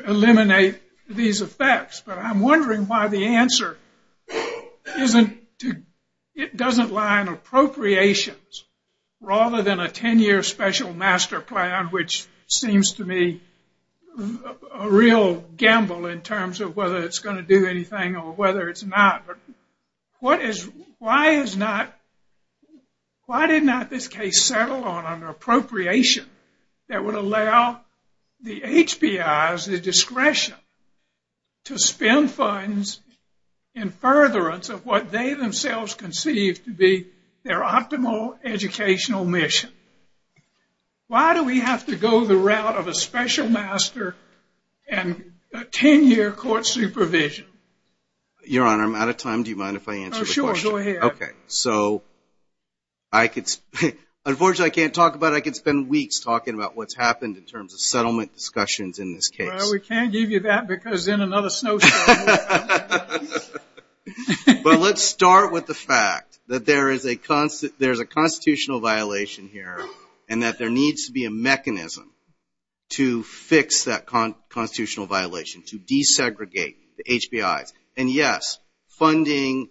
eliminate these effects, but I'm wondering why the answer doesn't lie in appropriations rather than a 10-year special master plan, which seems to me a real gamble in terms of whether it's going to do anything or whether it's not. Why did not this case settle on an appropriation that would allow the HBIs the discretion to spend funds in furtherance of what they themselves conceived to be their optimal educational mission? Why do we have to go the route of a special master and a 10-year court supervision? Your Honor, I'm out of time. Do you mind if I answer the question? Oh, sure. Go ahead. Okay. So unfortunately I can't talk about it. I could spend weeks talking about what's happened in terms of settlement discussions in this case. Well, we can't give you that because then another snowstorm will come. But let's start with the fact that there is a constitutional violation here and that there needs to be a mechanism to fix that constitutional violation, to desegregate the HBIs. And, yes, funding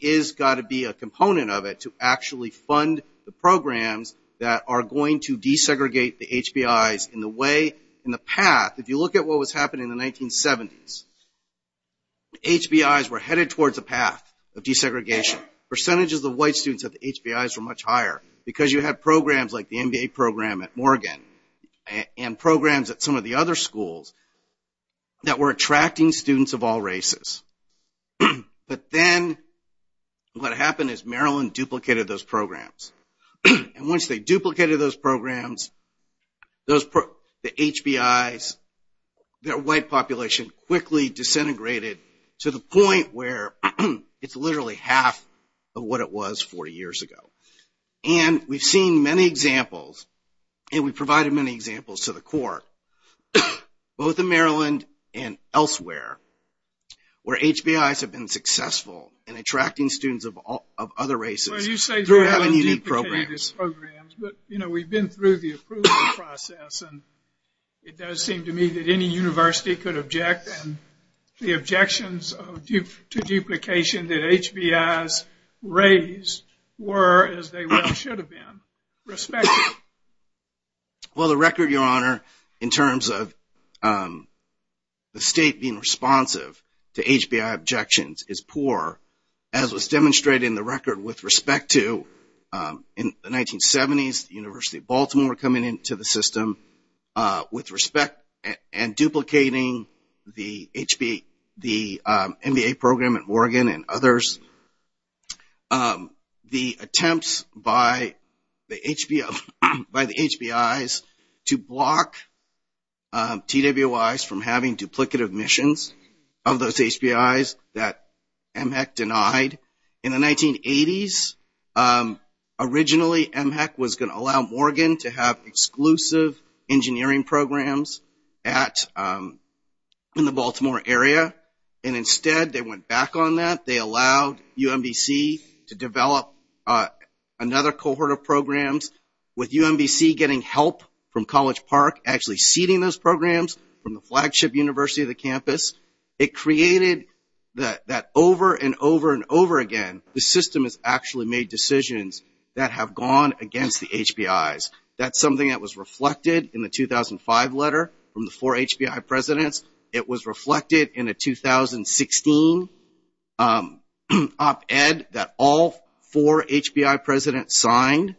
has got to be a component of it to actually fund the programs that are going to desegregate the HBIs in the way, in the path. If you look at what was happening in the 1970s, HBIs were headed towards a path of desegregation. Percentages of white students at the HBIs were much higher because you had programs like the MBA program at Morgan and programs at some of the other schools that were attracting students of all races. But then what happened is Maryland duplicated those programs. And once they duplicated those programs, the HBIs, their white population quickly disintegrated to the point where it's literally half of what it was 40 years ago. And we've seen many examples and we've provided many examples to the court, both in Maryland and elsewhere, where HBIs have been successful in attracting students of other races. You say they haven't duplicated the programs, but, you know, we've been through the approval process, and it does seem to me that any university could object. And the objections to duplication that HBIs raised were as they should have been, respectful. Well, the record, Your Honor, in terms of the state being responsive to HBI objections is poor. As was demonstrated in the record with respect to the 1970s, the University of Baltimore coming into the system with respect and duplicating the MBA program at Morgan and others. The attempts by the HBIs to block PWIs from having duplicative missions of those HBIs that MHEC denied. In the 1980s, originally MHEC was going to allow Morgan to have exclusive engineering programs in the Baltimore area, and instead they went back on that. They allowed UMBC to develop another cohort of programs, with UMBC getting help from College Park actually seeding those programs from the flagship university of the campus. It created that over and over and over again, the system has actually made decisions that have gone against the HBIs. That's something that was reflected in the 2005 letter from the four HBI presidents. It was reflected in a 2016 op-ed that all four HBI presidents signed.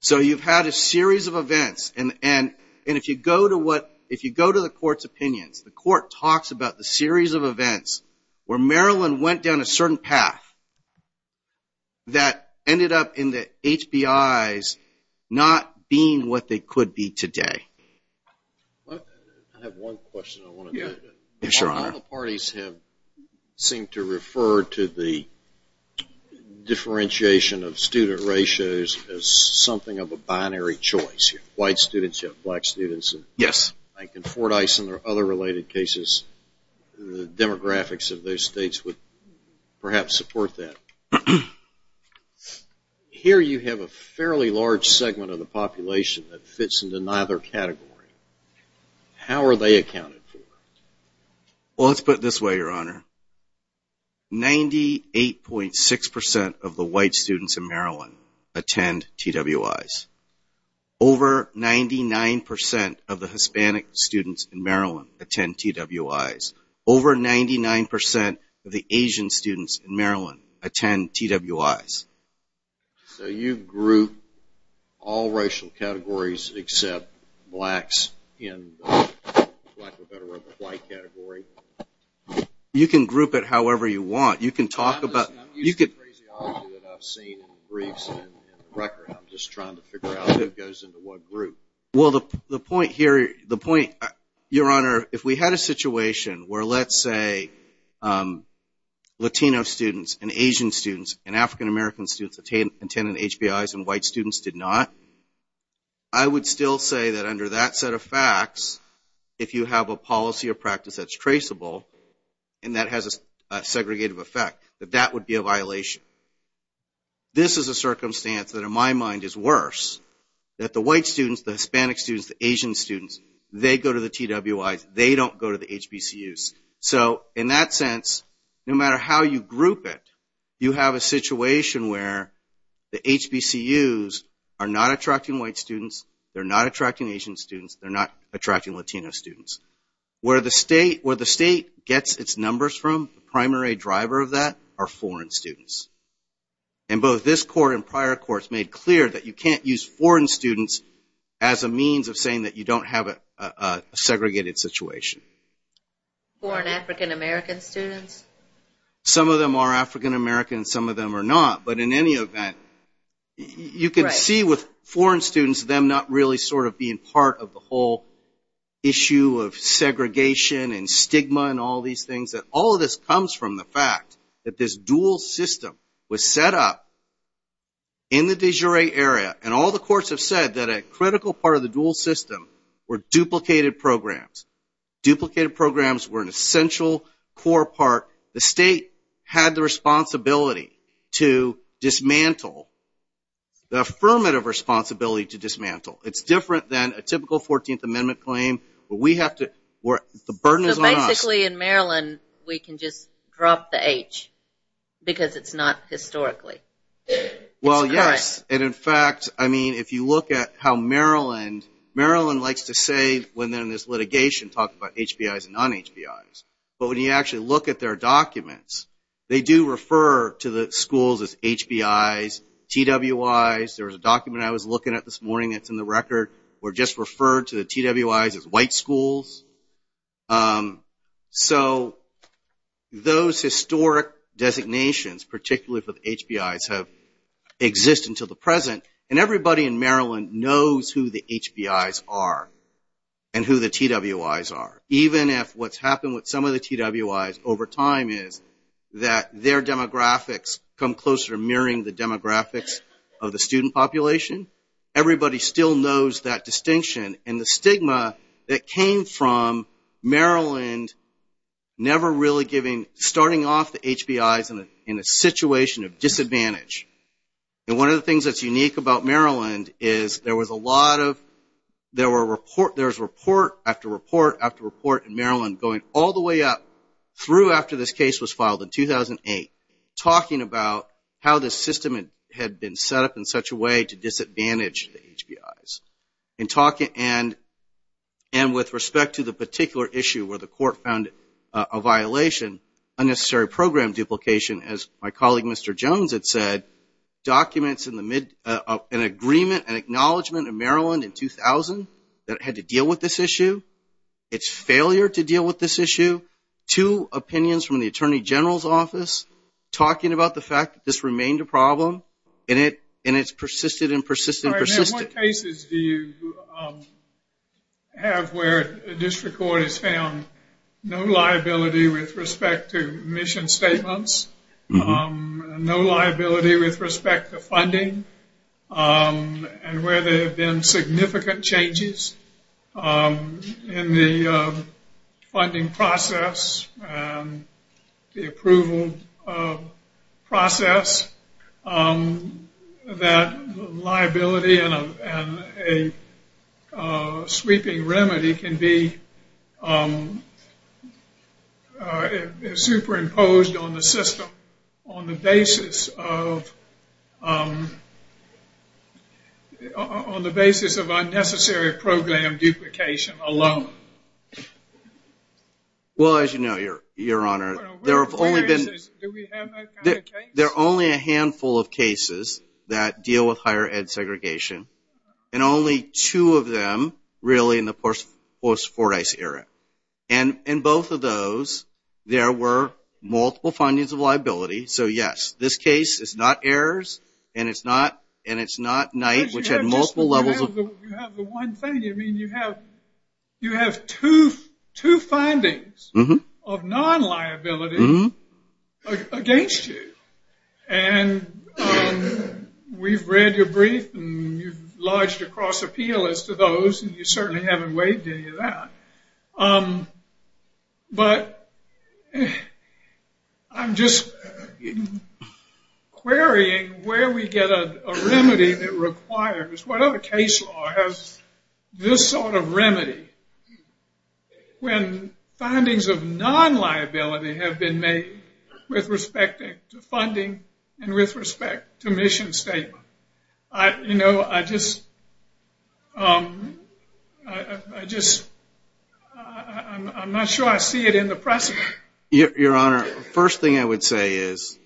So you've had a series of events. If you go to the court's opinion, the court talks about the series of events where Maryland went down a certain path that ended up in the HBIs not being what they could be today. I have one question I want to make. All the parties have seemed to refer to the differentiation of student ratios as something of a binary choice. You have white students, you have black students. Yes. Like in Fort Ison or other related cases, the demographics of those states would perhaps support that. Here you have a fairly large segment of the population that fits into neither category. How are they accounted for? Well, let's put it this way, Your Honor. 98.6% of the white students in Maryland attend TWIs. Over 99% of the Hispanic students in Maryland attend TWIs. Over 99% of the Asian students in Maryland attend TWIs. So you group all racial categories except blacks in the black category? You can group it however you want. You can talk about it. I'm not using the crazy option that I've seen in briefs and record. I'm just trying to figure out who goes into what group. Well, the point here, Your Honor, if we had a situation where let's say Latino students and Asian students and African-American students attended HBIs and white students did not, I would still say that under that set of facts, if you have a policy or practice that's traceable and that has a segregated effect, that that would be a violation. This is a circumstance that in my mind is worse, that the white students, the Hispanic students, the Asian students, they go to the TWIs, they don't go to the HBCUs. So in that sense, no matter how you group it, you have a situation where the HBCUs are not attracting white students, they're not attracting Asian students, they're not attracting Latino students. Where the state gets its numbers from, the primary driver of that are foreign students. And both this court and prior courts made clear that you can't use foreign students as a means of saying that you don't have a segregated situation. Foreign African-American students? Some of them are African-American, some of them are not. But in any event, you can see with foreign students, it's them not really sort of being part of the whole issue of segregation and stigma and all these things. All of this comes from the fact that this dual system was set up in the de jure area, and all the courts have said that a critical part of the dual system were duplicated programs. Duplicated programs were an essential core part. The state had the responsibility to dismantle, the affirmative responsibility to dismantle. It's different than a typical 14th Amendment claim where the burden is on us. So basically in Maryland, we can just drop the H because it's not historically correct. Well, yes. And in fact, I mean, if you look at how Maryland, Maryland likes to say when there's litigation, talk about HBIs and non-HBIs. But when you actually look at their documents, they do refer to the schools as HBIs, TWIs. There's a document I was looking at this morning that's in the record where it just referred to the TWIs as white schools. So those historic designations, particularly for the HBIs, have existed until the present. And everybody in Maryland knows who the HBIs are and who the TWIs are. Even if what's happened with some of the TWIs over time is that their demographics come closer to mirroring the demographics of the student population, everybody still knows that distinction. And the stigma that came from Maryland never really giving, starting off the HBIs in a situation of disadvantage. And one of the things that's unique about Maryland is there was a lot of, there was report after report after report in Maryland going all the way up through after this case was filed in 2008, talking about how the system had been set up in such a way to disadvantage the HBIs. And with respect to the particular issue where the court found a violation, unnecessary program duplication, as my colleague Mr. Jones had said, documents in the mid, an agreement, an acknowledgment of Maryland in 2000 that had to deal with this issue, its failure to deal with this issue, two opinions from the Attorney General's office talking about the fact that this remained a problem and it's persisted and persisted and persisted. And what cases do you have where district court has found no liability with respect to mission statements, no liability with respect to funding, and where there have been significant changes in the funding process and the approval process that liability and a sweeping remedy can be superimposed on the system on the basis of, on the basis of unnecessary program duplication alone? Well, as you know, Your Honor, there have only been, there are only a handful of cases that deal with higher ed segregation and only two of them really in the post-Fordyce era. And in both of those, there were multiple findings of liability. So, yes, this case is not Ayers and it's not Knight, which had multiple levels. You have the one thing, I mean, you have two findings of non-liability against you. And we've read your brief and you've lodged a cross-appeal as to those and you certainly haven't weighed any of that. But I'm just querying where we get a remedy that requires, whatever case law has this sort of remedy when findings of non-liability have been made with respect to funding and with respect to mission statement. You know, I just, I'm not sure I see it in the process. Your Honor, first thing I would say is,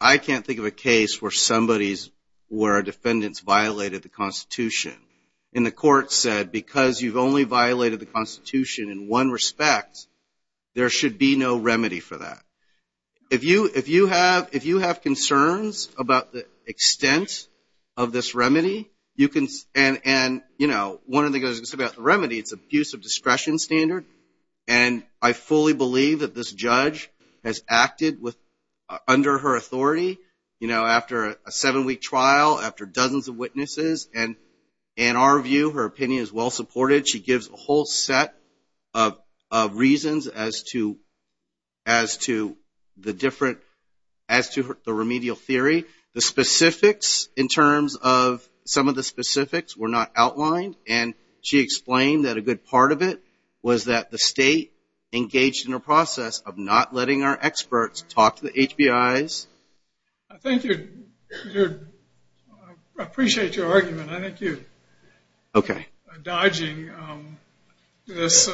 I can't think of a case where somebody's, where a defendant's violated the Constitution. And the court said, because you've only violated the Constitution in one respect, there should be no remedy for that. If you have concerns about the extent of this remedy, you can, and, you know, one of the things about the remedy is the abuse of discretion standard. And I fully believe that this judge has acted under her authority, you know, after a seven-week trial, after dozens of witnesses, and in our view, her opinion is well-supported. She gives a whole set of reasons as to the different, as to the remedial theory. The specifics, in terms of, some of the specifics were not outlined and she explained that a good part of it was that the state engaged in a process of not letting our experts talk to the HBIs. I think you're, I appreciate your argument. I think you're dodging this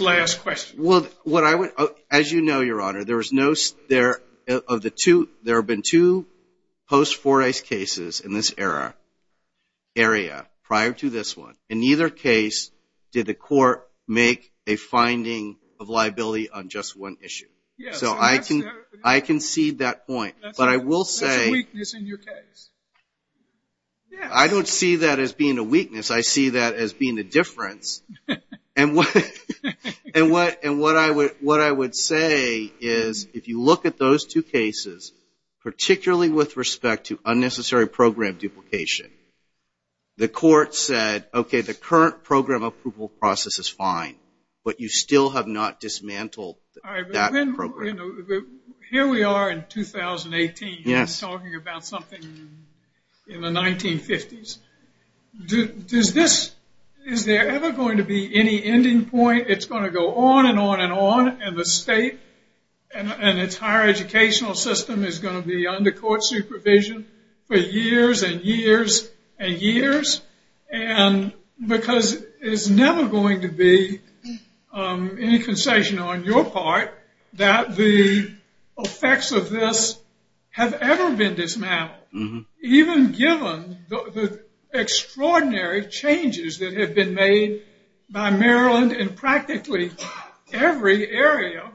last question. Well, what I would, as you know, Your Honor, there have been two post-Fordyce cases in this area prior to this one. In either case, did the court make a finding of liability on just one issue? So I can see that point. But I will say, I don't see that as being a weakness. I see that as being a difference. And what I would say is, if you look at those two cases, particularly with respect to unnecessary program duplication, the court said, okay, the current program approval process is fine, but you still have not dismantled that program. Here we are in 2018, you're talking about something in the 1950s. Is there ever going to be any ending point? It's going to go on and on and on. And the state and its higher educational system is going to be under court supervision for years and years and years. And because there's never going to be any concession on your part that the effects of this have ever been dismantled. Even given the extraordinary changes that have been made by Maryland in practically every area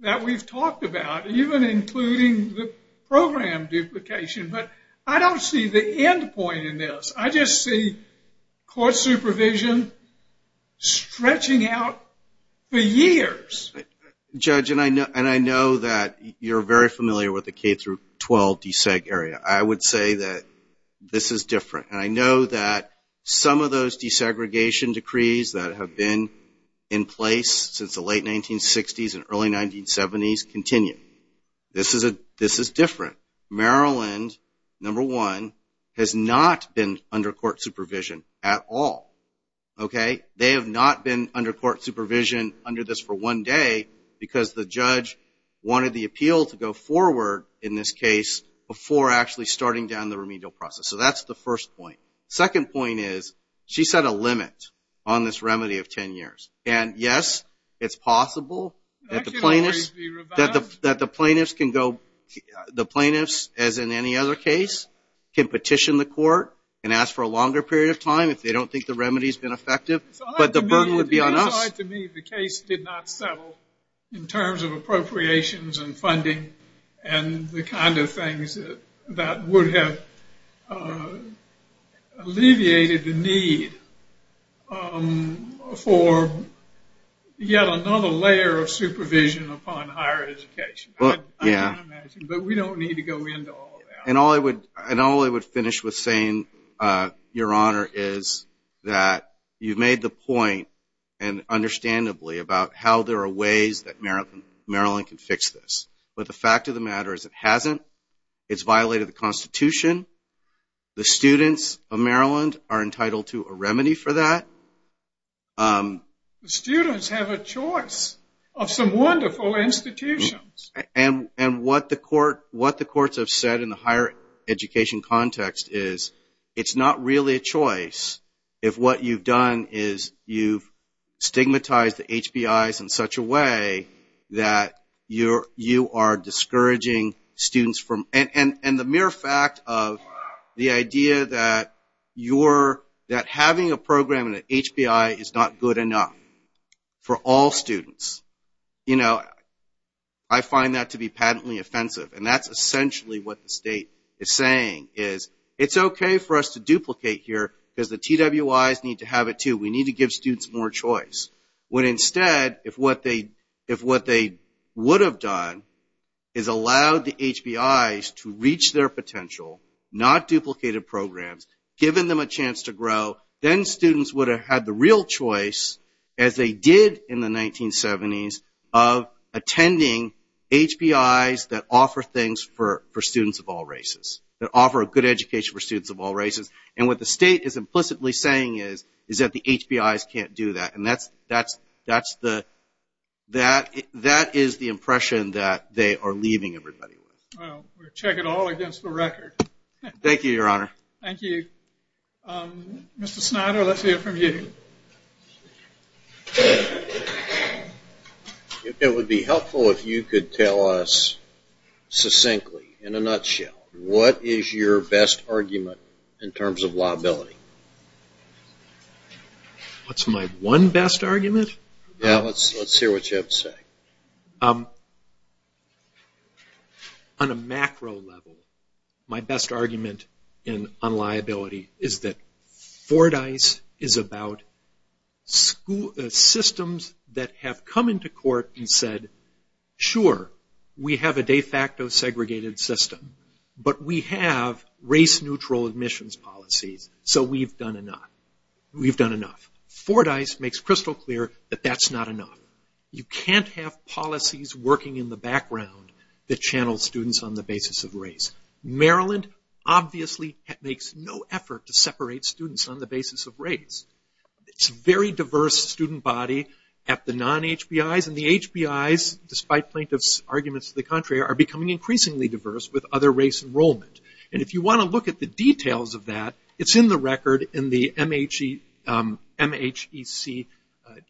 that we've talked about, even including the program duplication. But I don't see the end point in this. Judge, and I know that you're very familiar with the K-12 DSEG area. I would say that this is different. And I know that some of those desegregation decrees that have been in place since the late 1960s and early 1970s continue. This is different. Maryland, number one, has not been under court supervision at all. They have not been under court supervision under this for one day because the judge wanted the appeal to go forward in this case before actually starting down the remedial process. So that's the first point. Second point is, she set a limit on this remedy of 10 years. And yes, it's possible that the plaintiffs, as in any other case, can petition the court and ask for a longer period of time if they don't think the remedy has been effective. But the burden would be on us. It would be odd to me if the case did not settle in terms of appropriations and funding and the kind of things that would have alleviated the need for yet another layer of supervision upon higher education. But we don't need to go into all that. And all I would finish with saying, Your Honor, is that you've made the point and understandably about how there are ways that Maryland can fix this. But the fact of the matter is it hasn't. It's violated the Constitution. The students of Maryland are entitled to a remedy for that. The students have a choice of some wonderful institutions. And what the courts have said in the higher education context is, it's not really a choice if what you've done is you've stigmatized the HBIs in such a way that you are discouraging students. And the mere fact of the idea that having a program in the HBI is not good enough for all students. I find that to be patently offensive. And that's essentially what the state is saying is, it's okay for us to duplicate here because the TWIs need to have it too. We need to give students more choice. When instead, if what they would have done is allowed the HBIs to reach their potential, then students would have had the real choice, as they did in the 1970s, of attending HBIs that offer things for students of all races, that offer a good education for students of all races. And what the state is implicitly saying is that the HBIs can't do that. And that is the impression that they are leaving everybody with. Well, we'll check it all against the record. Thank you, Your Honor. Thank you. Mr. Snyder, let's hear from you. It would be helpful if you could tell us succinctly, in a nutshell, what is your best argument in terms of liability? What's my one best argument? Yeah, let's hear what you have to say. On a macro level, my best argument on liability is that Fordyce is about systems that have come into court and said, sure, we have a de facto segregated system, but we have race-neutral admissions policy, so we've done enough. Fordyce makes crystal clear that that's not enough. You can't have policies working in the background that channel students on the basis of race. Maryland obviously makes no effort to separate students on the basis of race. It's a very diverse student body at the non-HBIs, and the HBIs, despite plaintiff's arguments to the contrary, are becoming increasingly diverse with other race enrollment. And if you want to look at the details of that, it's in the record in the MHEC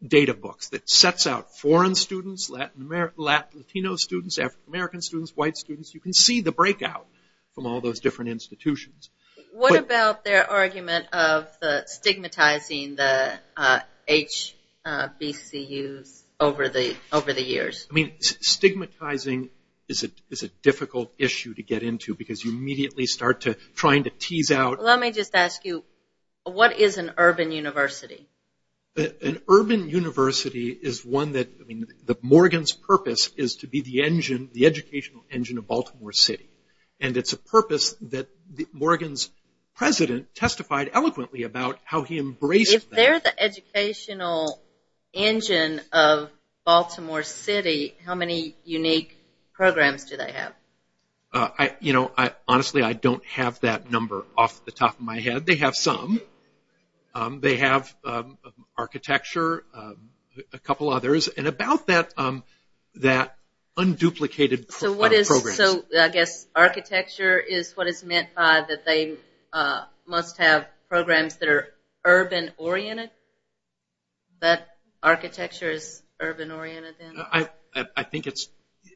data book that sets out foreign students, Latino students, African-American students, white students. You can see the breakout from all those different institutions. What about their argument of stigmatizing the HBCUs over the years? Stigmatizing is a difficult issue to get into because you immediately start trying to tease out. Let me just ask you, what is an urban university? An urban university is one that Morgan's purpose is to be the educational engine of Baltimore City, and it's a purpose that Morgan's president testified eloquently about how he embraced that. If there's an educational engine of Baltimore City, how many unique programs do they have? Honestly, I don't have that number off the top of my head. They have some. They have architecture, a couple others, and about that unduplicated program. So I guess architecture is what is meant by that they must have programs that are urban-oriented? That architecture is urban-oriented? I think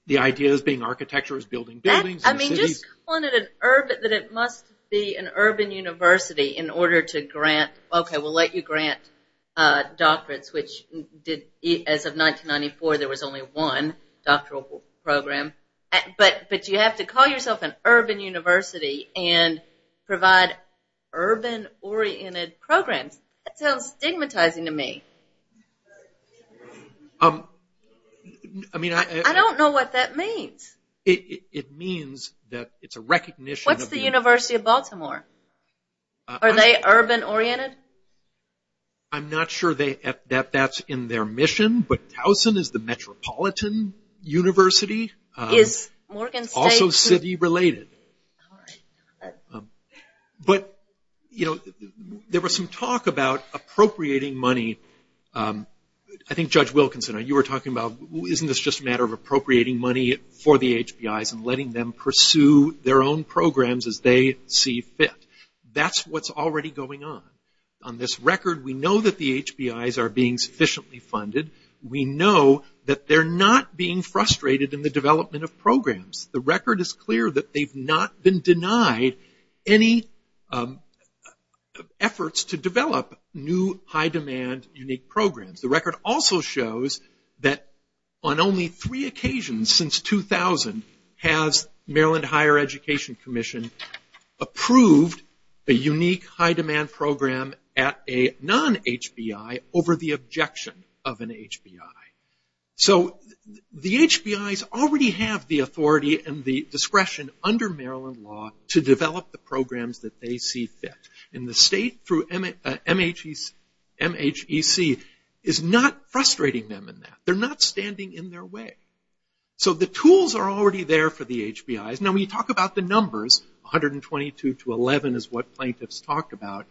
the idea of being architecture is building buildings. I mean, he's claimed that it must be an urban university in order to grant, okay, we'll let you grant doctorates, which as of 1994, there was only one doctoral program. But you have to call yourself an urban university and provide urban-oriented programs. That sounds stigmatizing to me. I don't know what that means. It means that it's a recognition of the- What's the University of Baltimore? Are they urban-oriented? I'm not sure that that's in their mission, but Towson is the metropolitan university, also city-related. But there was some talk about appropriating money. I think Judge Wilkinson, you were talking about isn't this just a matter of appropriating money for the HBIs and letting them pursue their own programs as they see fit? That's what's already going on. On this record, we know that the HBIs are being sufficiently funded. We know that they're not being frustrated in the development of programs. The record is clear that they've not been denied any efforts to develop new high-demand unique programs. The record also shows that on only three occasions since 2000 has Maryland Higher Education Commission approved a unique high-demand program at a non-HBI over the objection of an HBI. The HBIs already have the authority and the discretion under Maryland law to develop the programs that they see fit. The state through MHEC is not frustrating them in that. They're not standing in their way. The tools are already there for the HBIs. Now, when you talk about the numbers, 122 to 11 is what plaintiffs talked about,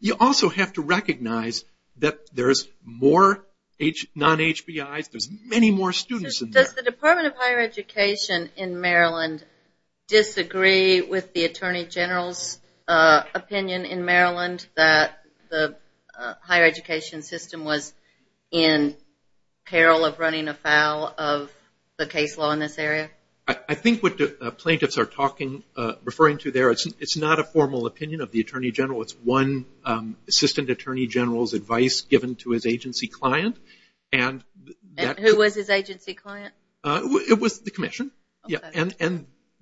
you also have to recognize that there's more non-HBIs. There's many more students in there. Does the Department of Higher Education in Maryland disagree with the Attorney General's opinion in Maryland that the higher education system was in peril of running afoul of the case law in this area? I think what the plaintiffs are referring to there, it's not a formal opinion of the Attorney General. It's one Assistant Attorney General's advice given to his agency client. And who was his agency client? It was the commission. And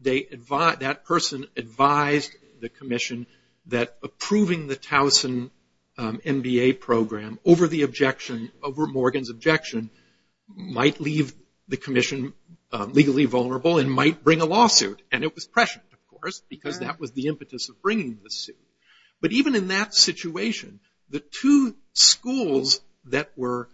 that person advised the commission that approving the Towson MBA program over the objection, over Morgan's objection, might leave the commission legally vulnerable and might bring a lawsuit. And it was pressure, of course, because that was the impetus of bringing the suit. But even in that situation, the two schools that were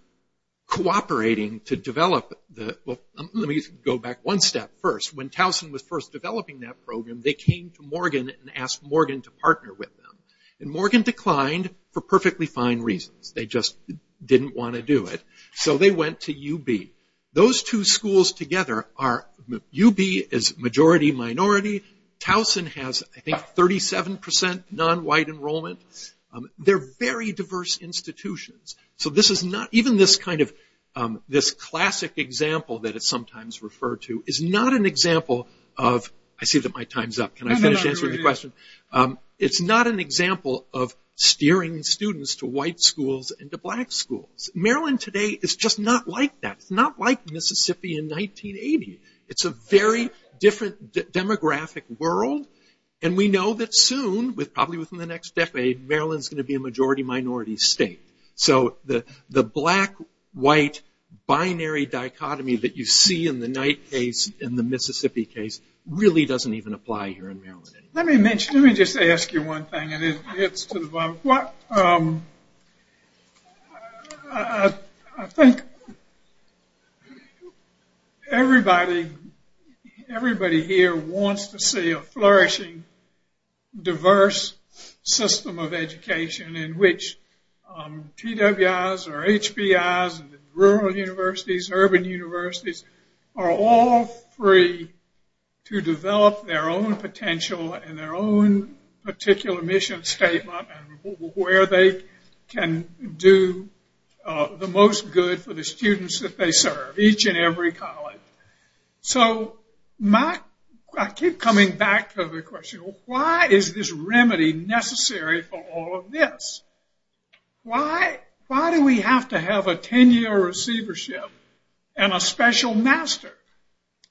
cooperating to develop the, let me go back one step first. When Towson was first developing that program, they came to Morgan and asked Morgan to partner with them. And Morgan declined for perfectly fine reasons. They just didn't want to do it. So they went to UB. Those two schools together are, UB is majority minority. Towson has, I think, 37% nonwhite enrollment. They're very diverse institutions. So this is not, even this kind of, this classic example that it's sometimes referred to, is not an example of, I see that my time's up. Can I finish answering the question? It's not an example of steering students to white schools and to black schools. Maryland today is just not like that. It's not like Mississippi in 1980. It's a very different demographic world. And we know that soon, probably within the next decade, Maryland's going to be a majority minority state. So the black-white binary dichotomy that you see in the Knight case and the Mississippi case really doesn't even apply here in Maryland. Let me mention, let me just ask you one thing. I think everybody here wants to see a flourishing, diverse system of education in which PWIs or HPIs, rural universities, urban universities, are all free to develop their own potential and their own particular mission statement where they can do the most good for the students that they serve, each and every college. So I keep coming back to the question, why is this remedy necessary for all of this? Why do we have to have a 10-year receivership and a special master?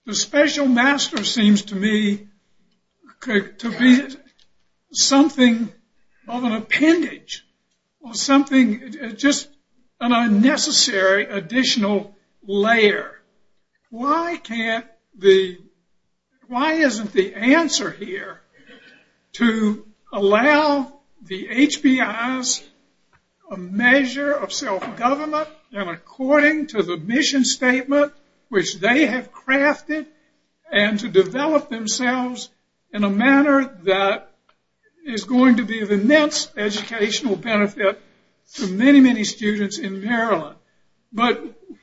The special master seems to me to be something of an appendage or something, just an unnecessary additional layer. Why can't the, why isn't the answer here to allow the HPIs a measure of self-government and according to the mission statement which they have crafted and to develop themselves in a manner that is going to be the next educational benefit to many, many students in Maryland? But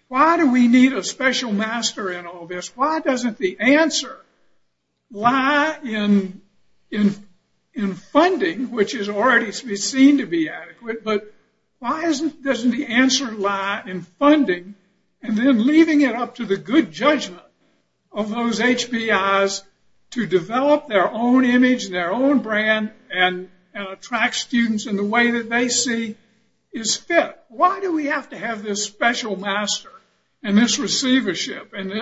why do we need a special master in all this? Why doesn't the answer lie in funding, which is already seen to be adequate, but why doesn't the answer lie in funding and then leaving it up to the good judgment of those HPIs to develop their own image and their own brand and attract students in the way that they see is fit? Why do we have to have this special master and this receivership and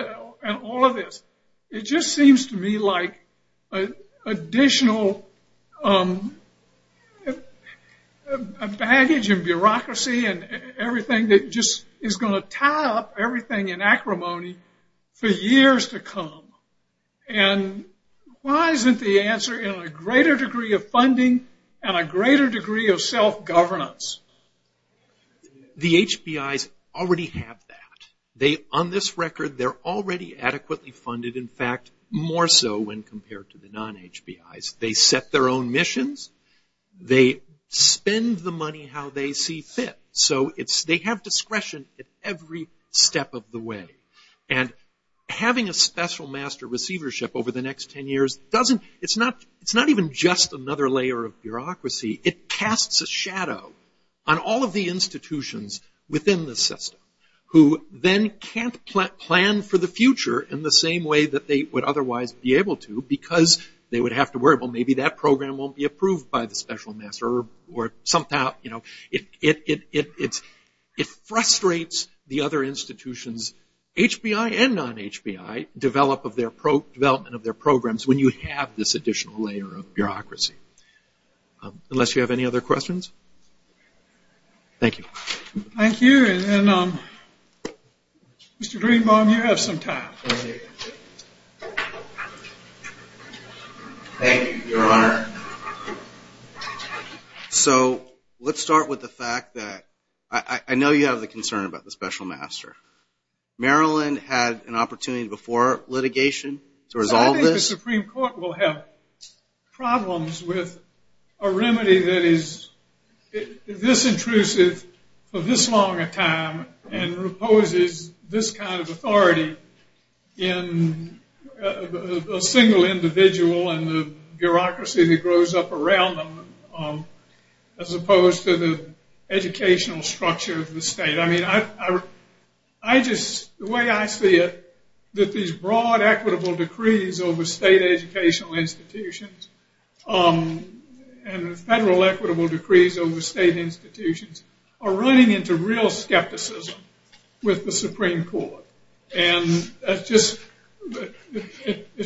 all of this? It just seems to me like additional baggage and bureaucracy and everything that just is going to tie up everything in acrimony for years to come. And why isn't the answer in a greater degree of funding and a greater degree of self-governance? The HPIs already have that. They, on this record, they're already adequately funded. In fact, more so when compared to the non-HPIs. They set their own missions. They spend the money how they see fit. So they have discretion at every step of the way. And having a special master receivership over the next ten years doesn't, it's not even just another layer of bureaucracy. It casts a shadow on all of the institutions within the system who then can't plan for the future in the same way that they would otherwise be able to because they would have to worry, well, maybe that program won't be approved by the special master or something. It frustrates the other institutions, HPI and non-HPI, development of their programs when you have this additional layer of bureaucracy. Unless you have any other questions? Thank you. Thank you. Mr. Greenbaum, you have some time. Thank you, Your Honor. So let's start with the fact that I know you have a concern about the special master. Maryland had an opportunity before litigation to resolve this. I think the Supreme Court will have problems with a remedy that is disintrusive for this long a time and imposes this kind of authority in a single individual and the bureaucracy that grows up around them as opposed to the educational structure of the state. I just, the way I see it, that these broad equitable decrees over state educational institutions and federal equitable decrees over state institutions are running into real skepticism with the Supreme Court. And it's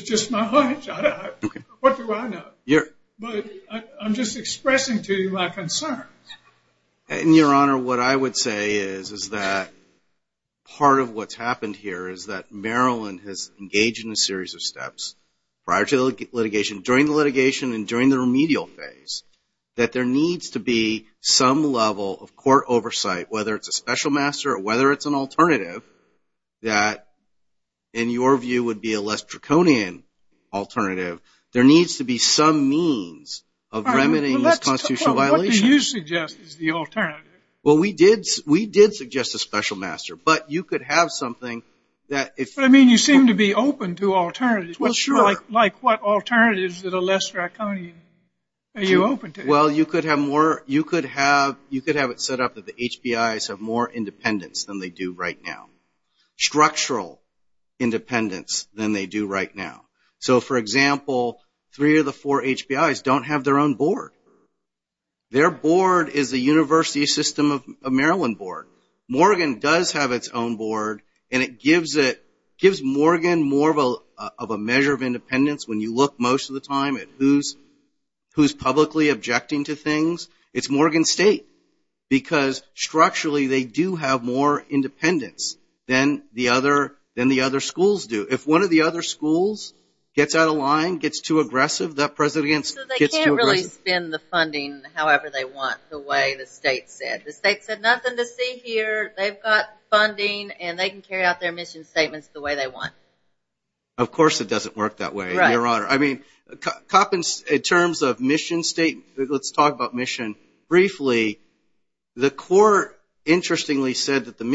just my hunch. What do I know? But I'm just expressing to you my concerns. And, Your Honor, what I would say is that part of what's happened here is that Maryland has engaged in a series of steps prior to litigation, during litigation, and during the remedial phase that there needs to be some level of court oversight, whether it's a special master or whether it's an alternative that, in your view, would be a less draconian alternative. There needs to be some means of remedying this constitutional violation. What do you suggest is the alternative? Well, we did suggest a special master, but you could have something that... I mean, you seem to be open to alternatives. Well, sure. Like what alternatives that are less draconian are you open to? Well, you could have it set up that the HBIs have more independence than they do right now, structural independence than they do right now. So, for example, three of the four HBIs don't have their own board. Their board is the University System of Maryland board. Morgan does have its own board, and it gives Morgan more of a measure of independence when you look most of the time at who's publicly objecting to things. It's Morgan State because, structurally, they do have more independence than the other schools do. If one of the other schools gets out of line, gets too aggressive, that president gets too aggressive. So they can't really spend the funding however they want the way the state said. The state said nothing to see here. They've got funding, and they can carry out their mission statements the way they want. Of course it doesn't work that way, Your Honor. I mean, in terms of mission statements, let's talk about mission. Briefly, the court, interestingly, said that the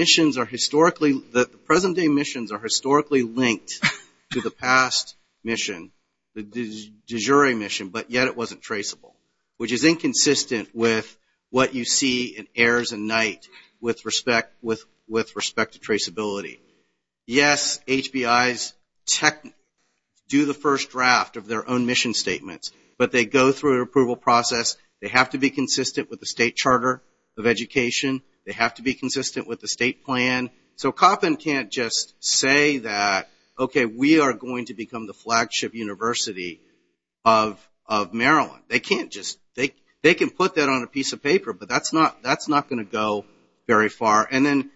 present-day missions are historically linked to the past mission, the de jure mission, but yet it wasn't traceable, which is inconsistent with what you see in heirs and knight with respect to traceability. Yes, HBIs do the first draft of their own mission statements, but they go through an approval process. They have to be consistent with the state charter of education. They have to be consistent with the state plan. So Coppin can't just say that, okay, we are going to become the flagship university of Maryland. They can put that on a piece of paper, but that's not going to go very far. And then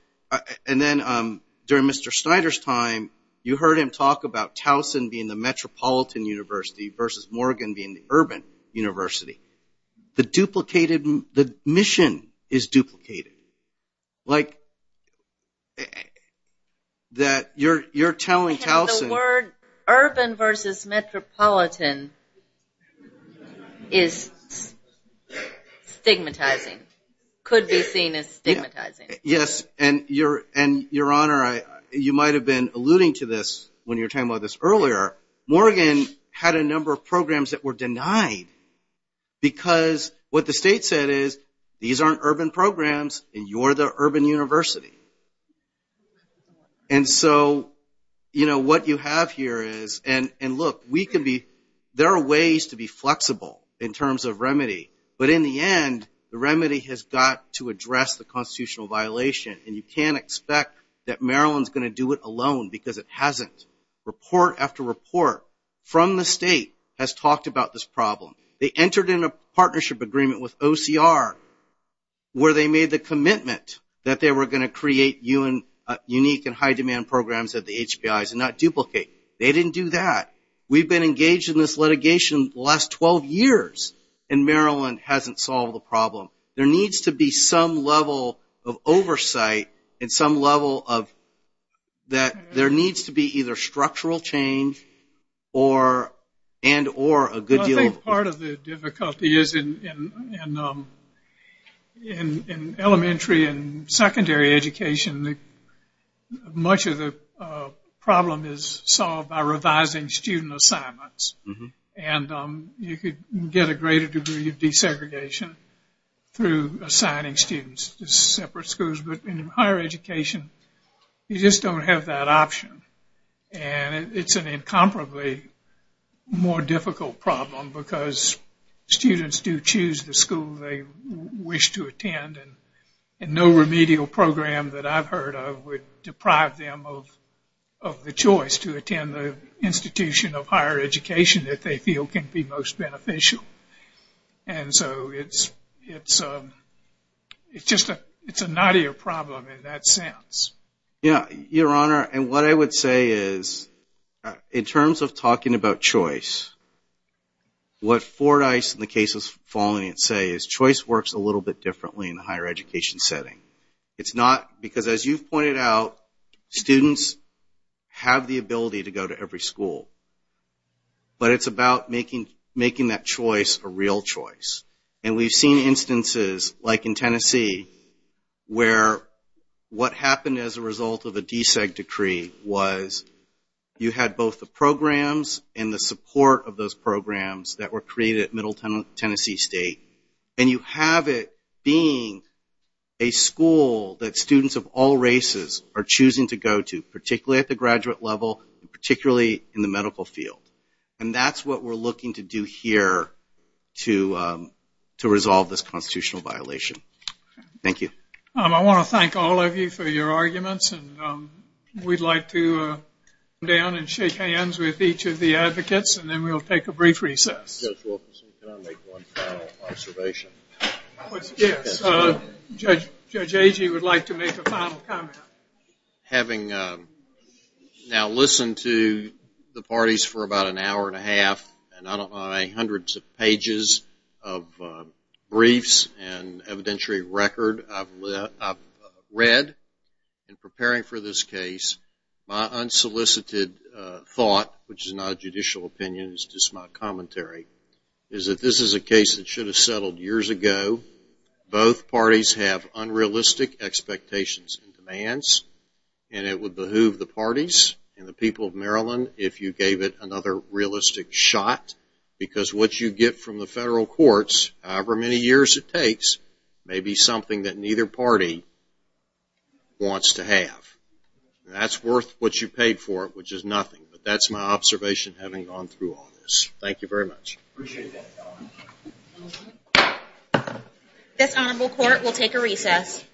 during Mr. Snyder's time, you heard him talk about Towson being the metropolitan university versus Morgan being the urban university. The mission is duplicated. Like that you're telling Towson- The word urban versus metropolitan is stigmatizing, could be seen as stigmatizing. Yes, and, Your Honor, you might have been alluding to this when you were talking about this earlier. Morgan had a number of programs that were denied because what the state said is, these aren't urban programs and you're the urban university. And so, you know, what you have here is, and look, there are ways to be flexible in terms of remedy, but in the end the remedy has got to address the constitutional violation and you can't expect that Maryland is going to do it alone because it hasn't. Report after report from the state has talked about this problem. They entered into a partnership agreement with OCR where they made the commitment that they were going to create unique and high demand programs at the HBIs and not duplicate. They didn't do that. We've been engaged in this litigation the last 12 years and Maryland hasn't solved the problem. There needs to be some level of oversight and some level of- that there needs to be either structural change and or a good deal of- Part of the difficulty is in elementary and secondary education, much of the problem is solved by revising student assignments and you could get a greater degree of desegregation through assigning students to separate schools, but in higher education you just don't have that option. And it's an incomparably more difficult problem because students do choose the school they wish to attend and no remedial program that I've heard of would deprive them of the choice to attend the institution of higher education that they feel can be most beneficial. And so it's just a- it's a knottier problem in that sense. Yeah, Your Honor, and what I would say is in terms of talking about choice, what Fordyce and the cases following it say is choice works a little bit differently in the higher education setting. It's not- because as you pointed out, students have the ability to go to every school, but it's about making that choice a real choice. And we've seen instances, like in Tennessee, where what happened as a result of a deseg decree was you had both the programs and the support of those programs that were created at Middle Tennessee State and you have it being a school that students of all races are choosing to go to, particularly at the graduate level, particularly in the medical field. And that's what we're looking to do here to resolve this constitutional violation. Thank you. I want to thank all of you for your arguments. And we'd like to come down and shake hands with each of the advocates and then we'll take a brief recess. Judge Wilkerson, can I make one final observation? Yes, Judge Agee would like to make a final comment. Having now listened to the parties for about an hour and a half and on my hundreds of pages of briefs and evidentiary record, I've read in preparing for this case my unsolicited thought, which is not a judicial opinion, it's just my commentary, is that this is a case that should have settled years ago. Both parties have unrealistic expectations and demands and it would behoove the parties and the people of Maryland if you gave it another realistic shot because what you get from the federal courts, however many years it takes, may be something that neither party wants to have. And that's worth what you paid for it, which is nothing. But that's my observation having gone through all this. Thank you very much. Appreciate that. This Honorable Court will take a recess.